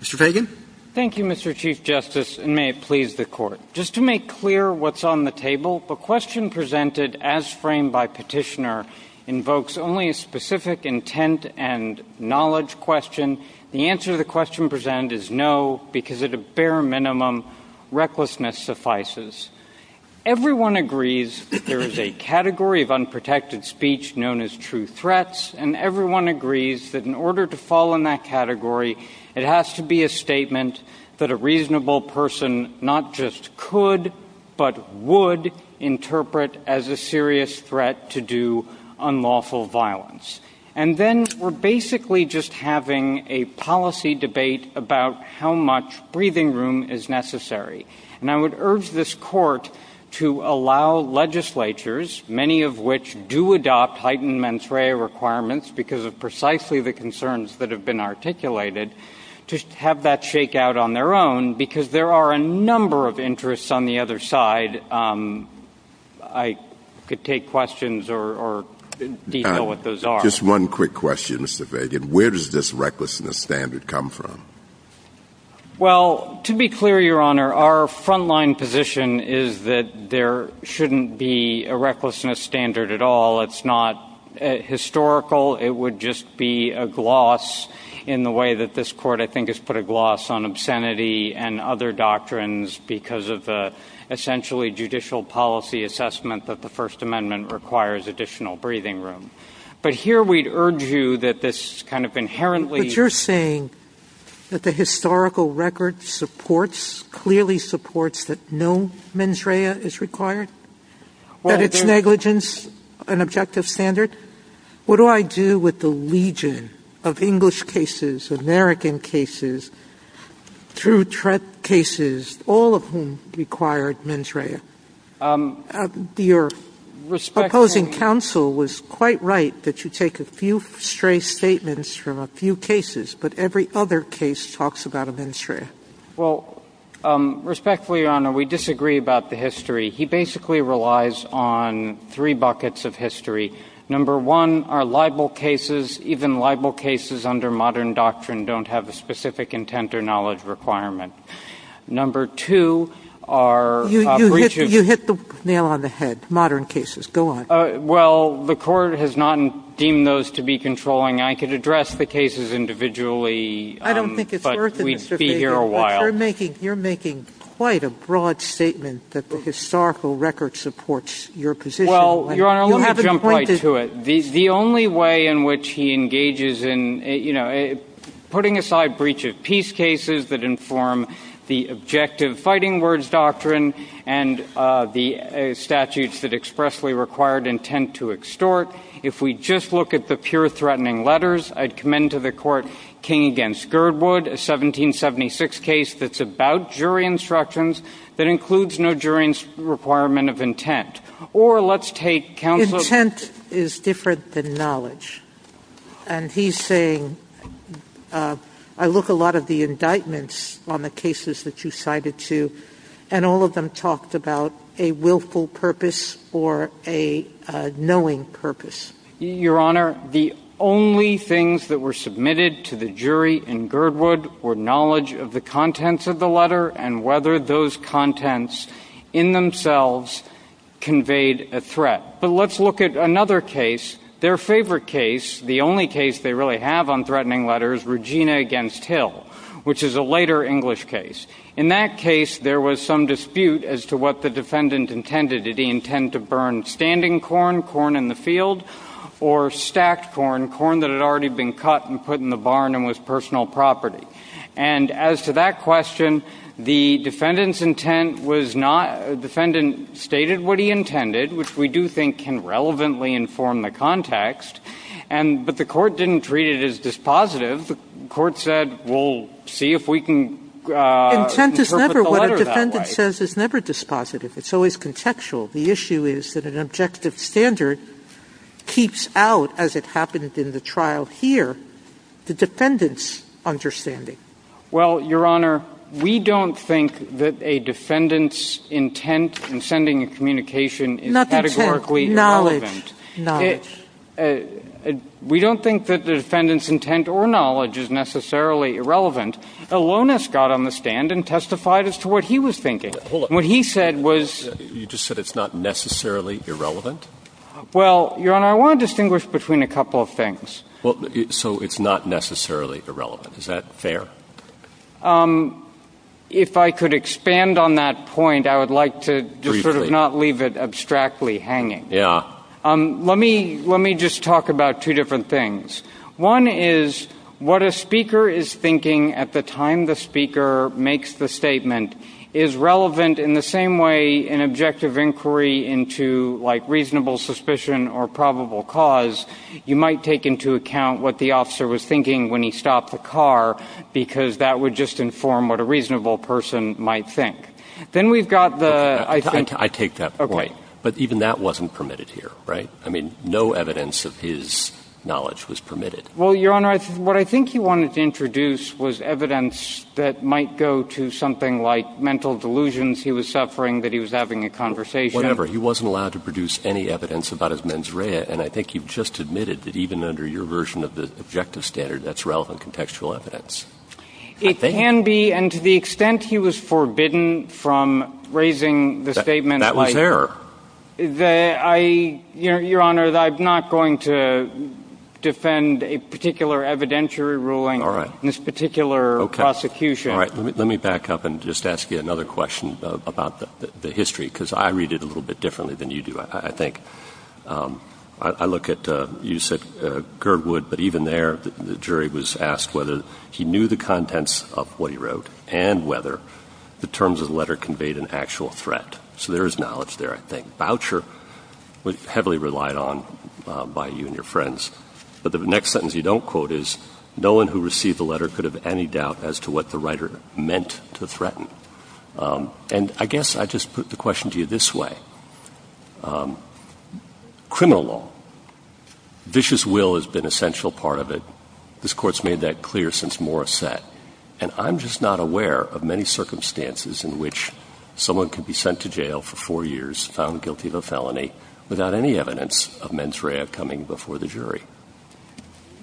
Mr. Fagan? Thank you, Mr. Chief Justice, and may it please the Court. Just to make clear what's on the table, the question presented as framed by Petitioner invokes only a specific intent and the answer to the question presented is no, because at a bare minimum recklessness suffices. Everyone agrees that there is a category of unprotected speech known as true threats, and everyone agrees that in order to fall in that category, it has to be a statement that a reasonable person not just could but would interpret as a serious threat to unlawful violence. And then we're basically just having a policy debate about how much breathing room is necessary. And I would urge this Court to allow legislatures, many of which do adopt heightened mens rea requirements because of precisely the concerns that have been articulated, to have that shake out on their own, because there are a number of questions that have been raised, and I'm not going to go into detail here or detail what those are. Just one quick question, Mr. Fagan. Where does this recklessness standard come from? Well, to be clear, Your Honor, our front-line position is that there shouldn't be a recklessness standard at all. It's not historical. It would just be a gloss in the way that this Court, I think, has put a gloss on obscenity and other doctrines because of the essentially judicial policy assessment that the First Amendment requires additional breathing room. But here we'd urge you that this kind of inherently... But you're saying that the historical record supports, clearly supports, that no mens rea is required? That it's negligence, an objective standard? What do I do with the legion of English cases, American cases, true threat cases, all of whom required mens rea? Your opposing counsel was quite right that you take a few stray statements from a few cases, but every other case talks about a mens rea. Well, respectfully, Your Honor, we disagree about the history. He basically relies on three buckets of history. Number one are libel cases. Even libel cases under modern doctrine don't have a specific intent or knowledge requirement. Number two are... You hit the nail on the head. Modern cases. Go on. Well, the Court has not deemed those to be libel cases. I'm not going to go into that for a while. But you're making quite a broad statement that the historical record supports your position. Well, Your Honor, let me jump right to it. The only way in which he engages in putting aside breach of peace cases that inform the objective fighting words doctrine and the statutes that expressly require intent to extort, if we just look at the pure threatening letters, I'd commend to the Court King v. Girdwood, a 1776 case that's about jury instructions that includes no jury requirement of intent. Or let's take counsel... Intent is different than knowledge. And he's saying I look at a lot of the indictments on the cases that you cited to, and all of them talked about a willful purpose or a knowing purpose. Your Honor, the only things that were submitted to the jury in Girdwood were knowledge of the contents of the letter and whether those contents in themselves conveyed a threat. But let's look at another case, their favorite case, the only case they really have on threatening letters, Regina v. Hill, which is a later English case. In that case, there was some dispute as to what the defendant intended. Did he intend to burn standing corn, corn in the field, or stacked corn, corn that had already been cut and put in the barn and was personal property? And as to that question, the defendant's intent was not... The defendant stated what he intended, which we do think can be dispositive. The court said we'll see if we can interpret the letter that way. Intent is never what a defendant says is never dispositive. It's always contextual. The issue is that an objective standard keeps out, as it happened in the trial here, the defendant's understanding. Well, Your Honor, we don't think that a defendant's intent in sending a communication is categorically irrelevant. We don't think that the defendant's intent or knowledge is necessarily irrelevant. Alonis got on the stand and testified as to what he was thinking. What he said was... You just said it's not necessarily irrelevant? Well, Your Honor, I want to distinguish between a couple of things. So it's not necessarily irrelevant. Is that fair? If I could expand on that point, I would like to not leave it abstractly hanging. Let me just talk about two different things. One is what a speaker is thinking at the time the speaker makes the statement is relevant in the same way an objective inquiry into reasonable suspicion or probable cause. You might take into account what the officer was thinking when he stopped the car, because that would just inform what a reasonable person might think. Then we've got the... I take that point. But even that wasn't permitted here, right? I mean, no evidence of his knowledge was permitted. Well, Your Honor, what I think you wanted to introduce was evidence that might go to something like mental delusions he was suffering, that he was having a conversation... Whatever. He wasn't allowed to produce any evidence about his mens rea, and I think he just admitted that even under your version of the objective standard, that's relevant contextual evidence. It can be, and to the extent he was forbidden from raising the statement... That was there. Your Honor, I'm not going to defend a particular evidentiary ruling in this particular prosecution. All right. Let me back up and just ask you another question about the history, because I read it a little bit differently than you do, I think. I look at... You said Girdwood, but even there the jury was asked whether he knew the contents of what he wrote and whether the terms of the letter conveyed an actual threat. So there is knowledge there, I think. Voucher was heavily relied on by you and your friends. But the next sentence you don't quote is, No one who received the letter could have any doubt as to what the writer meant to threaten. And I guess I just put the question to you this way. Criminal law. Vicious will has been an essential part of it. This Court's made that clear since Morris set. And I'm just not aware of many circumstances in which someone can be sent to jail for four years, found guilty of a felony, without any evidence of mens rea coming before the jury.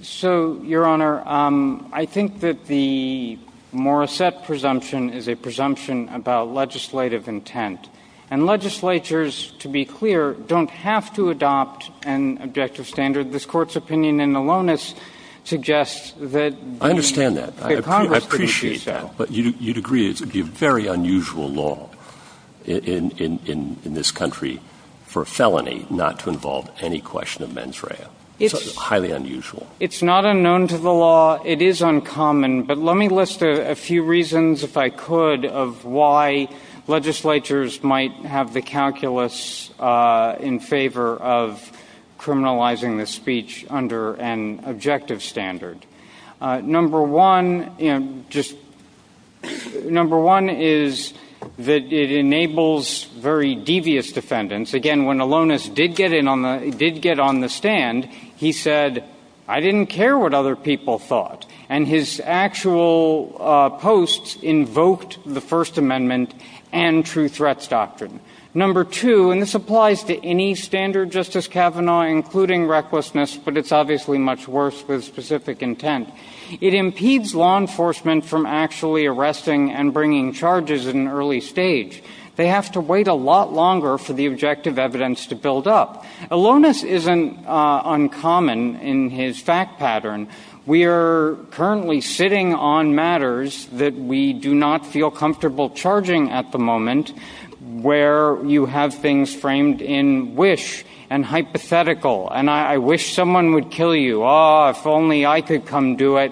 So, Your Honor, I think that the Morris set presumption is a presumption about legislative intent. And legislatures, to be clear, don't have to adopt an objective standard. This Court's opinion in the loneness suggests that... I understand that. I appreciate that. But you'd agree it would be a very felony not to involve any question of mens rea. It's highly unusual. It's not unknown to the law. It is uncommon. But let me list a few reasons, if I could, of why legislatures might have the calculus in favor of criminalizing the speech under an objective standard. Number one is that it enables very devious defendants. Again, when Alonis did get on the stand, he said, I didn't care what other people thought. And his actual posts invoked the First Amendment and true threats doctrine. Number two, and this applies to any standard, Justice Kavanaugh, including recklessness, but it's obviously much worse with specific intent. It impedes law enforcement from actually arresting and bringing charges in an early stage. They have to wait a lot longer for the objective evidence to build up. Alonis isn't uncommon in his fact pattern. We are currently sitting on matters that we do not feel comfortable charging at the moment, where you have things framed in wish and hypothetical. And I wish someone would kill you. If only I could come do it,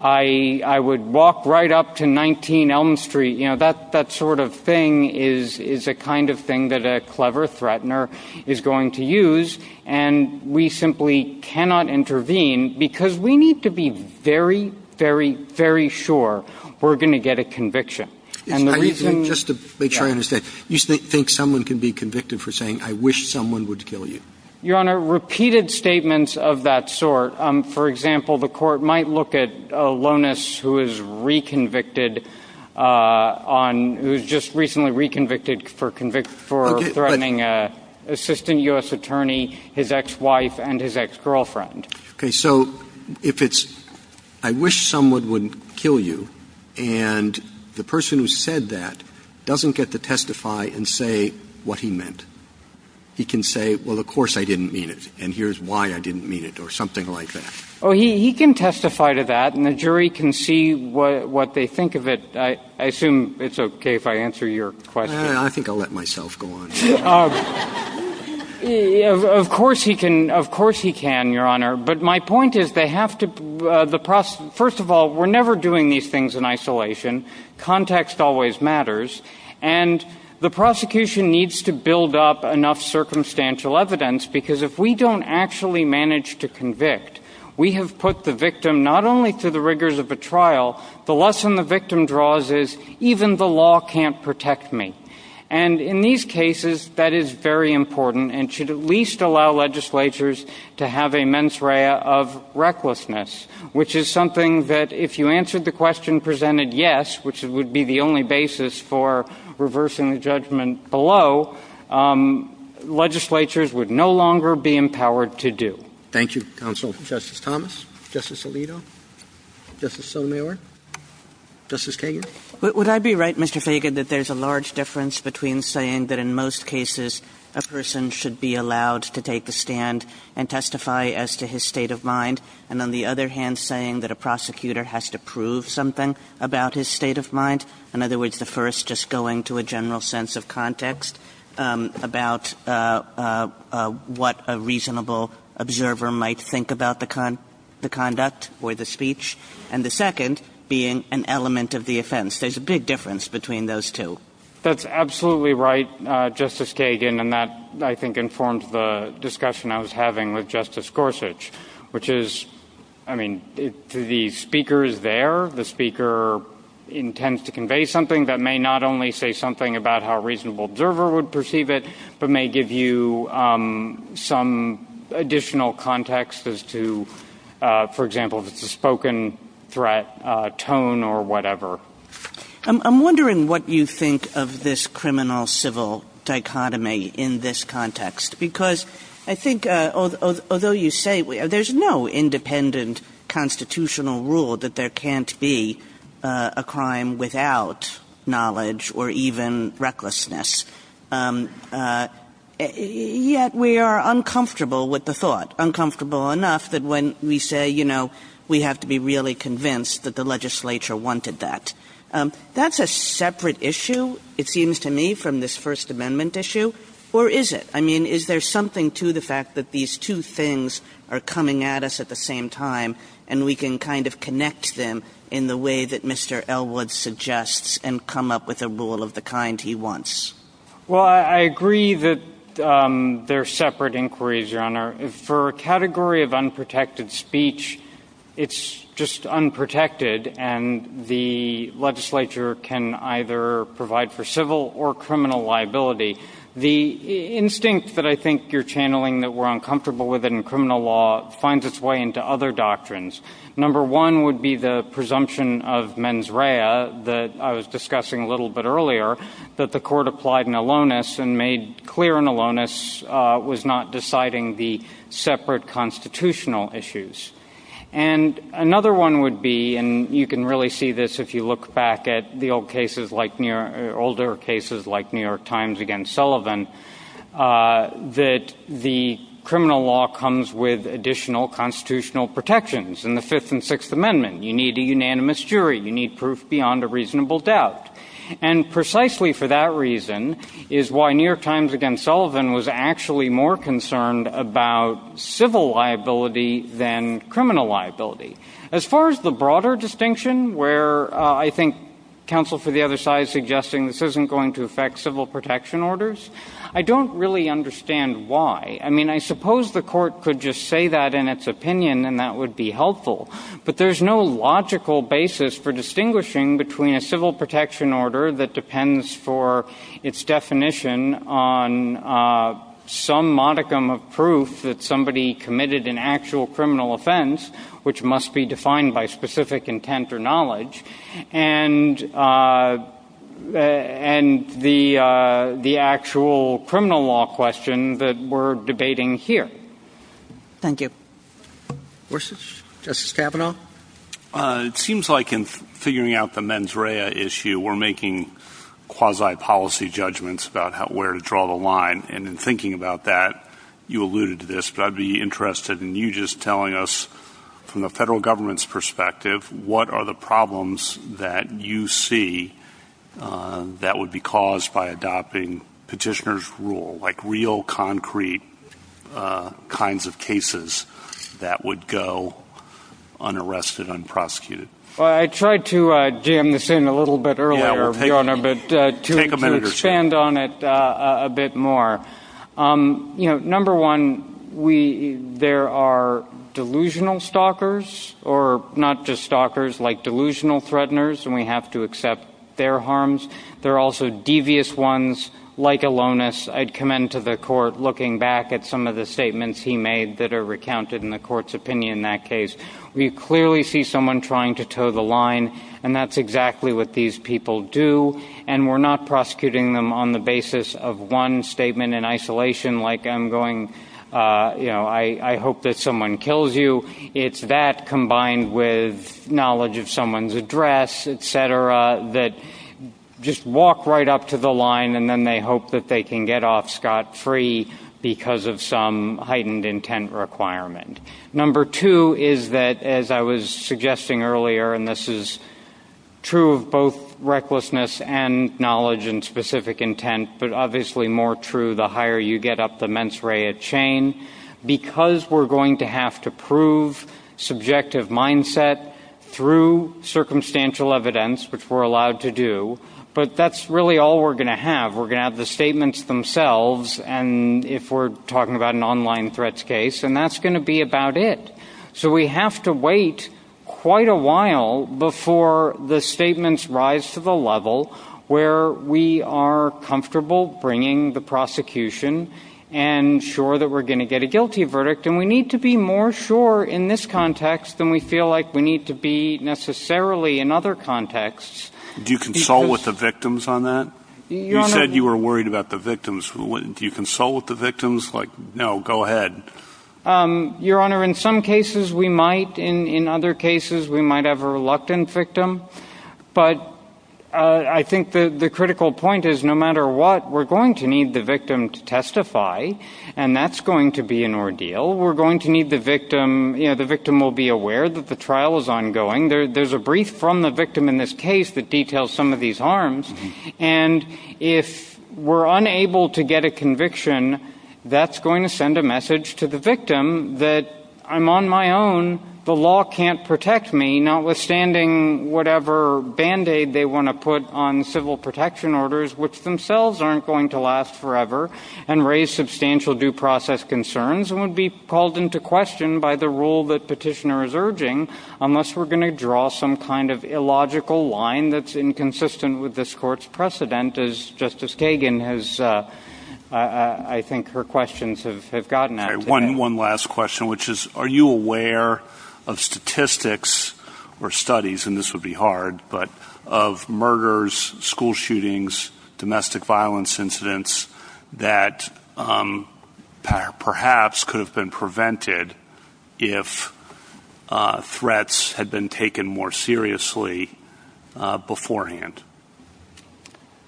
I would walk right up to 19 Elm Street. That sort of thing is a kind of thing that a clever threatener is going to use. And we simply cannot intervene, because we need to be very, very, very sure we're going to get a conviction. Just to make sure I understand, you think someone can be convicted for saying, I wish someone would kill you? Your Honor, repeated statements of that sort, for example, the court might look at Alonis, who is reconvicted on, who's just recently reconvicted for threatening an assistant U.S. attorney, his ex-wife, and his ex-girlfriend. Okay, so if it's, I wish someone would kill you, and the person who said that doesn't get to testify and say what he meant. He can say, well, of course I didn't mean it, and here's why I didn't mean it, or something like that. Oh, he can testify to that, and the jury can see what they think of it. I assume it's okay if I answer your question. I think I'll let myself go on. Of course he can, Your Honor. But my point is, they have to, first of all, we're never doing these things in isolation. Context always matters. And the prosecution needs to build up enough circumstantial evidence, because if we don't actually manage to convict, we have put the victim, not only to the rigors of the trial, the lesson the victim draws is, even the law can't protect me. And in these cases, that is very important, and should at least allow legislatures to have a mens rea of recklessness, which is something that if you answered the question presented yes, which would be the only basis for reversing the judgment below, legislatures would no longer be empowered to do. Thank you, Counsel. Justice Thomas? Justice Alito? Justice Sotomayor? Justice Fagan? Would I be right, Mr. Fagan, that there's a large difference between saying that in most cases, a person should be allowed to take a stand and testify as to his state of mind, and on the other hand, saying that a prosecutor has to prove something about his state of mind? In other words, the first just going to a general sense of context about what a reasonable observer might think about the conduct or the speech, and the second being an element of the offense. There's a big difference between those two. That's absolutely right, Justice Fagan, and that I think informs the discussion I was having with Justice Gorsuch, which is, I mean, the speaker is there. The speaker intends to convey something that may not only say something about how a reasonable observer would perceive it, but may give you some additional context as to, for example, if it's a spoken threat, tone, or whatever. I'm wondering what you think of this criminal-civil dichotomy in this independent constitutional rule that there can't be a crime without knowledge or even recklessness. Yet we are uncomfortable with the thought, uncomfortable enough that when we say, you know, we have to be really convinced that the legislature wanted that. That's a separate issue, it seems to me, from this First Amendment issue, or is it? I mean, is there something to the fact that these two things are coming at us at the same time and we can kind of connect them in the way that Mr. Elwood suggests and come up with a rule of the kind he wants? Well, I agree that they're separate inquiries, Your Honor. For a category of unprotected speech, it's just unprotected, and the legislature can either provide for civil or criminal liability. The instinct that I think you're channeling that we're uncomfortable with in criminal law finds its way into other doctrines. Number one would be the presumption of mens rea that I was discussing a little bit earlier, that the Court applied in alonus and made clear in alonus was not deciding the separate constitutional issues. And another one would be, and you can really see this if you look back at the older cases like New York Times against Sullivan, that the criminal law comes with additional constitutional protections in the Fifth and Sixth Amendments. You need a unanimous jury. You need proof beyond a reasonable doubt. And precisely for that reason is why New York Times against Sullivan was actually more concerned about civil liability than criminal liability. As far as the broader distinction, where I think counsel for the other side is suggesting this isn't going to affect civil protection orders, I don't really understand why. I mean, I suppose the Court could just say that in its opinion and that would be helpful, but there's no logical basis for distinguishing between a civil protection order that depends for its definition on some modicum of proof that somebody committed an actual criminal offense, which must be defined by specific intent or knowledge, and the actual criminal law question that we're debating here. Thank you. It seems like in figuring out the mens rea issue, we're making quasi-policy judgments about where to draw the line. And in thinking about that, you alluded to this, but I'd be interested in you just telling us, from the federal government's perspective, what are the problems that you see that would be caused by adopting petitioner's rule, like real concrete kinds of cases that would go unarrested, unprosecuted? I tried to jam this in a little bit earlier, Your Honor, but to expand on it a bit more. Number one, there are delusional stalkers, or not just stalkers, like delusional threateners, and we have to accept their harms. There are also devious ones, like Alonis. I'd commend to the Court, looking back at some of the statements he made that are recounted in the Court's opinion in that case. We clearly see someone trying to toe the line, and that's exactly what these people do. And we're not prosecuting them on the basis of one statement in isolation, like I'm going, you know, I hope that someone kills you. It's that combined with knowledge of someone's address, et cetera, that just walk right up to the line, and then they hope that they can get off scot-free because of some heightened intent requirement. Number two is that, as I was suggesting earlier, and this is true of both recklessness and knowledge and specific intent, but obviously more true the higher you get up the mens rea chain, because we're going to have to prove subjective mindset through circumstantial evidence, which we're allowed to do, but that's really all we're going to have. We're going to have the statements themselves, and if we're talking about an online threats case, and that's going to be about it. So we have to wait quite a while before the statements rise to the level where we are comfortable bringing the prosecution and sure that we're going to get a guilty verdict, and we need to be more sure in this context than we feel like we need to be necessarily in other contexts. Do you consult with the victims on that? You said you were worried about the victims. Do you consult with the victims? Like, no, go ahead. Your Honor, in some cases we might. In other cases we might have a reluctant victim, but I think the critical point is no matter what, we're going to need the victim to testify, and that's going to be an ordeal. We're going to need the victim, you know, the victim will be aware that the trial is ongoing. There's a brief from the victim in this case that details some of these harms, and if we're unable to get a conviction, that's going to send a message to the victim that I'm on my own, the law can't protect me, notwithstanding whatever Band-Aid they want to put on civil protection orders which themselves aren't going to last forever and raise substantial due process concerns and would be called into question by the rule that petitioner is urging unless we're going to have some kind of illogical line that's inconsistent with this court's precedent, as Justice Kagan has, I think her questions have gotten at. One last question, which is, are you aware of statistics or studies, and this would be hard, but of murders, school shootings, domestic violence incidents that perhaps could have been prevented if threats had been taken more seriously beforehand?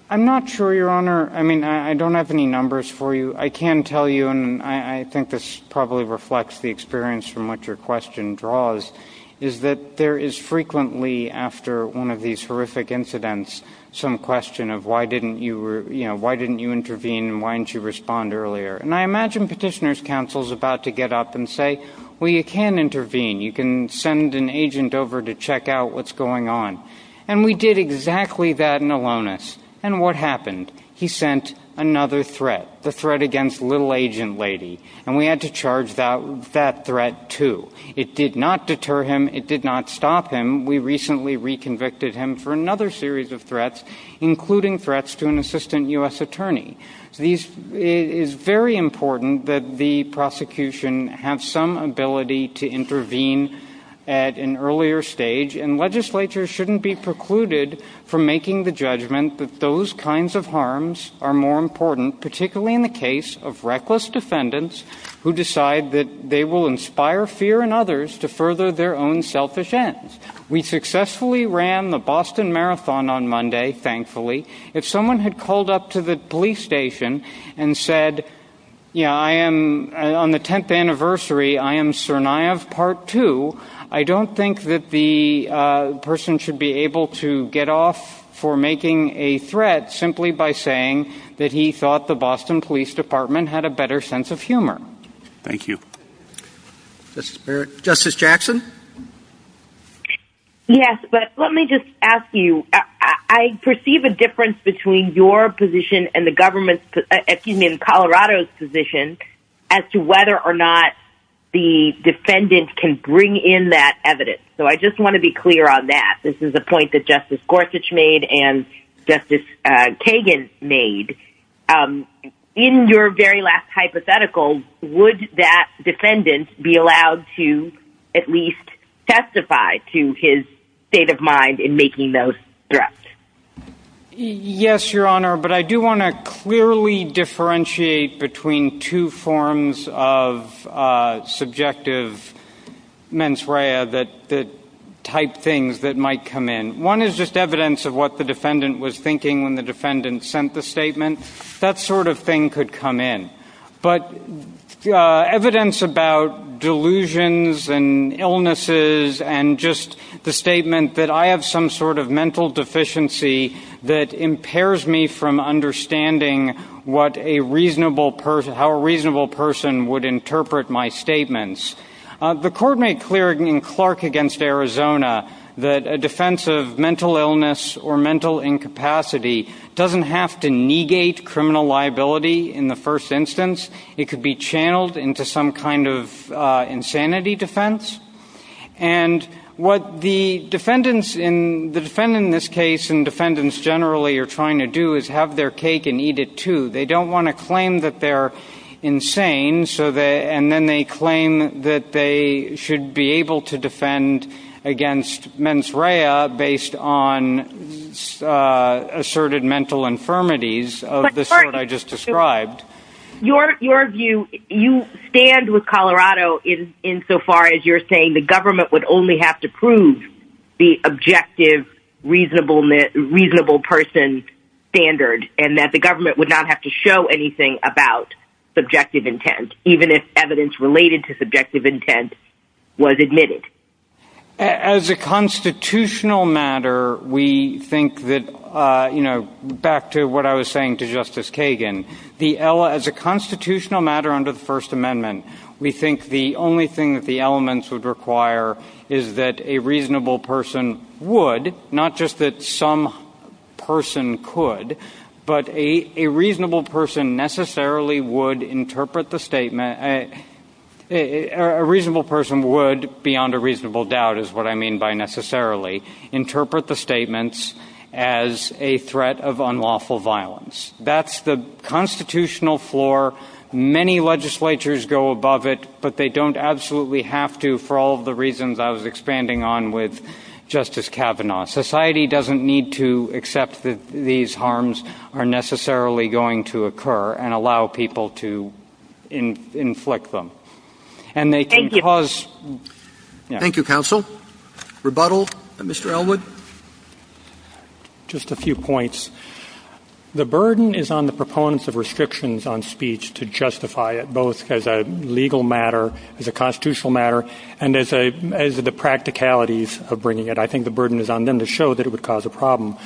I'm not sure, Your Honor. I mean, I don't have any numbers for you. I can tell you, and I think this probably reflects the experience from which your question draws, is that there is frequently, after one of these horrific incidents, some question of why didn't you intervene and why didn't you respond earlier? And I imagine petitioner's counsel is about to get up and say, well, you can intervene. You can send an agent over to check out what's going on. And we did exactly that in Alonis. And what happened? He sent another threat, the threat against Little Agent Lady. And we had to charge that threat, too. It did not deter him. It did not stop him. We recently reconvicted him for another series of threats, including threats to an assistant U.S. attorney. It is very important that the prosecution have some ability to intervene at an earlier stage, and legislatures shouldn't be precluded from making the judgment that those kinds of harms are more important, particularly in the case of reckless defendants who decide that they will inspire fear in others to further their own selfish ends. We successfully ran the Boston Marathon on Monday, thankfully. If someone had called up to the police station and said, yeah, I am on the 10th anniversary, I am Tsarnaev Part 2, I don't think that the person should be able to get off for making a threat simply by saying that he thought the Boston Police Department had a better sense of humor. Thank you. Justice Jackson? Yes, but let me just ask you, I perceive a difference between your position and the government's, excuse me, and Colorado's position as to whether or not the defendant can bring in that evidence. So I just want to be clear on that. This is a point that Justice Gorsuch made and Justice Kagan made. In your very last hypothetical, would that defendant be allowed to at least testify to his state of mind in making those threats? Yes, Your Honor, but I do want to clearly differentiate between two forms of subjective mens rea that type things that might come in. One is just evidence of what the defendant was thinking when the defendant sent the statement. That sort of thing could come in. But evidence about delusions and illnesses and just the statement that I have some sort of mental deficiency that impairs me from understanding how a reasonable person would interpret my statements. The court made clear in Clark v. Arizona that a defense of mental illness or mental incapacity doesn't have to negate criminal liability in the first instance. It could be channeled into some kind of insanity defense. And what the defendants in this case and defendants generally are trying to do is have their cake and eat it too. They don't want to claim that they're insane. And then they claim that they should be able to defend against mens rea based on asserted mental infirmities of the sort I just described. Your view, you would only have to prove the objective reasonable person standard and that the government would not have to show anything about subjective intent even if evidence related to subjective intent was admitted. As a constitutional matter, we think that back to what I was saying to Justice Kagan, as a constitutional matter under the First Amendment, we think the only thing that the elements would require is that a reasonable person would, not just that some person could, but a reasonable person necessarily would interpret the statement. A reasonable person would, beyond a reasonable doubt is what I mean by necessarily, interpret the statements as a threat of unlawful violence. That's the constitutional floor. Many legislatures go above it, but they don't absolutely have to for all of the reasons I was expanding on with Justice Kavanaugh. Society doesn't need to accept that these harms are necessarily going to occur and allow people to inflict them. And they can cause... Just a few points. The burden is on the proponents of restrictions on speech to justify it both as a legal matter, as a constitutional matter, and as the practicalities of bringing it. I think the burden is on them to show that it would cause a problem.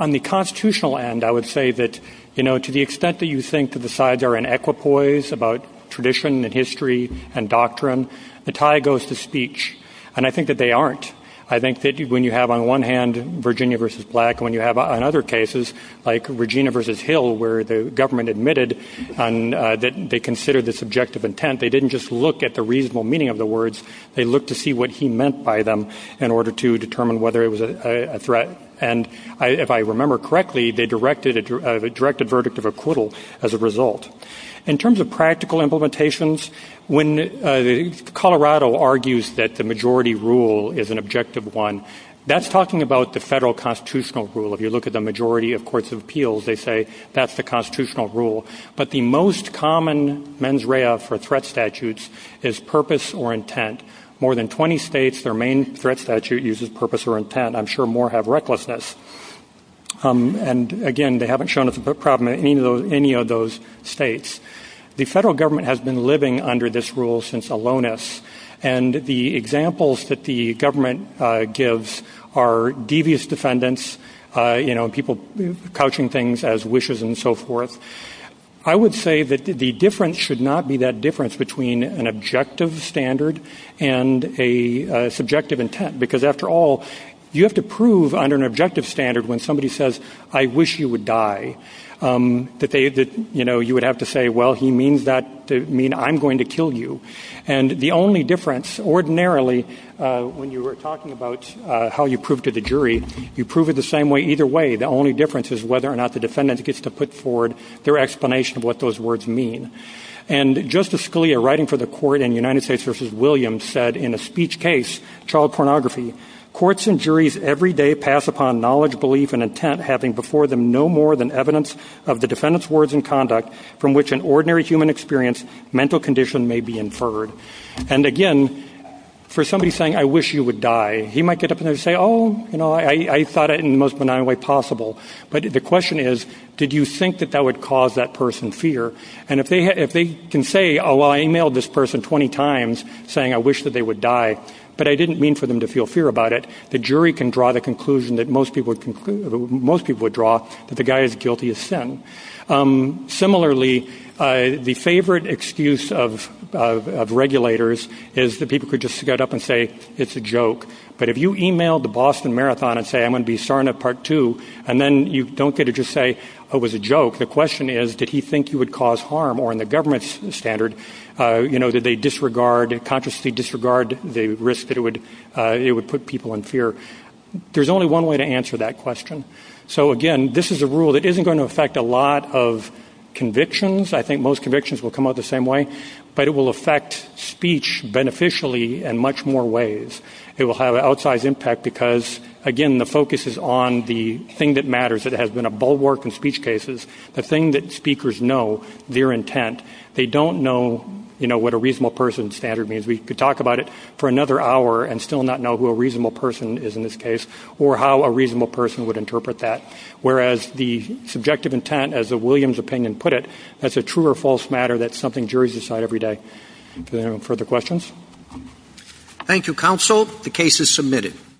On the constitutional end, I would say that to the extent that you think that the sides are in equipoise about tradition and history and doctrine, the tie goes to speech. And I think that they aren't. I think that when you have, on one hand, Virginia v. Black, and when you have on other cases, like Virginia v. Hill, where the government admitted that they considered this objective intent, they didn't just look at the reasonable meaning of the words. They looked to see what he meant by them in order to determine whether it was a threat. And if I remember correctly, they directed a verdict of acquittal as a result. In terms of practical implementations, when Colorado argues that the majority rule is an objective one, that's talking about the federal constitutional rule. If you look at the majority of courts of appeals, they say that's the constitutional rule. But the most common mens rea for threat statutes is purpose or intent. More than 20 states, their main threat statute uses purpose or intent. I'm sure more have recklessness. And, again, they haven't shown us a problem in any of those states. The federal government has been living under this rule since Alonis. And the examples that the government gives are devious defendants, people couching things as wishes and so forth. I would say that the difference should not be that difference between an objective standard and a subjective intent. Because, after all, you have to prove under an objective standard when somebody says, I wish you would die, that you would have to say, well, he means that to mean I'm going to kill you. And the only difference, ordinarily, when you were talking about how you prove to the jury, you prove it the same way either way. The only difference is whether or not the defendant gets to put forward their explanation of what those words mean. And Justice Scalia, writing for the court in United States versus Williams, said in a speech case, child pornography, courts and juries every day pass upon knowledge, belief and intent having before them no more than evidence of the defendant's words and conduct from which an ordinary human experience, mental condition may be inferred. And, again, for somebody saying, I wish you would die, he might get up and say, oh, you know, I thought it in the most benign way possible. But the question is, did you think that that would cause that person fear? And if they can say, oh, I emailed this person 20 times saying I wish that they would die, but I didn't mean for them to feel fear about it, the jury can draw the conclusion that most people would draw that the guy is guilty of sin. Similarly, the favorite excuse of regulators is that people could just get up and say, it's a joke. But if you emailed the Boston Marathon and say, I'm going to be sorry in part two, and then you don't get to just say, oh, it was a joke. The question is, did he think you would cause harm? Or in the government's standard, you know, did they disregard, consciously disregard the risk that it would put people in fear? There's only one way to answer that question. So, again, this is a rule that isn't going to affect a lot of convictions. I think most convictions will come out the same way. But it will affect speech beneficially in much more ways. It will have an outsized impact because, again, the focus is on the thing that matters. It has been a bulwark in speech cases. The thing that speakers know, their intent. They don't know, you know, what a reasonable person standard means. We could talk about it for another hour and still not know who a reasonable person is in this case or how a reasonable person would interpret that. Whereas the subjective intent, as a Williams opinion put it, that's a true or false matter. That's something juries decide every day. Further questions? Thank you, counsel. The case is submitted.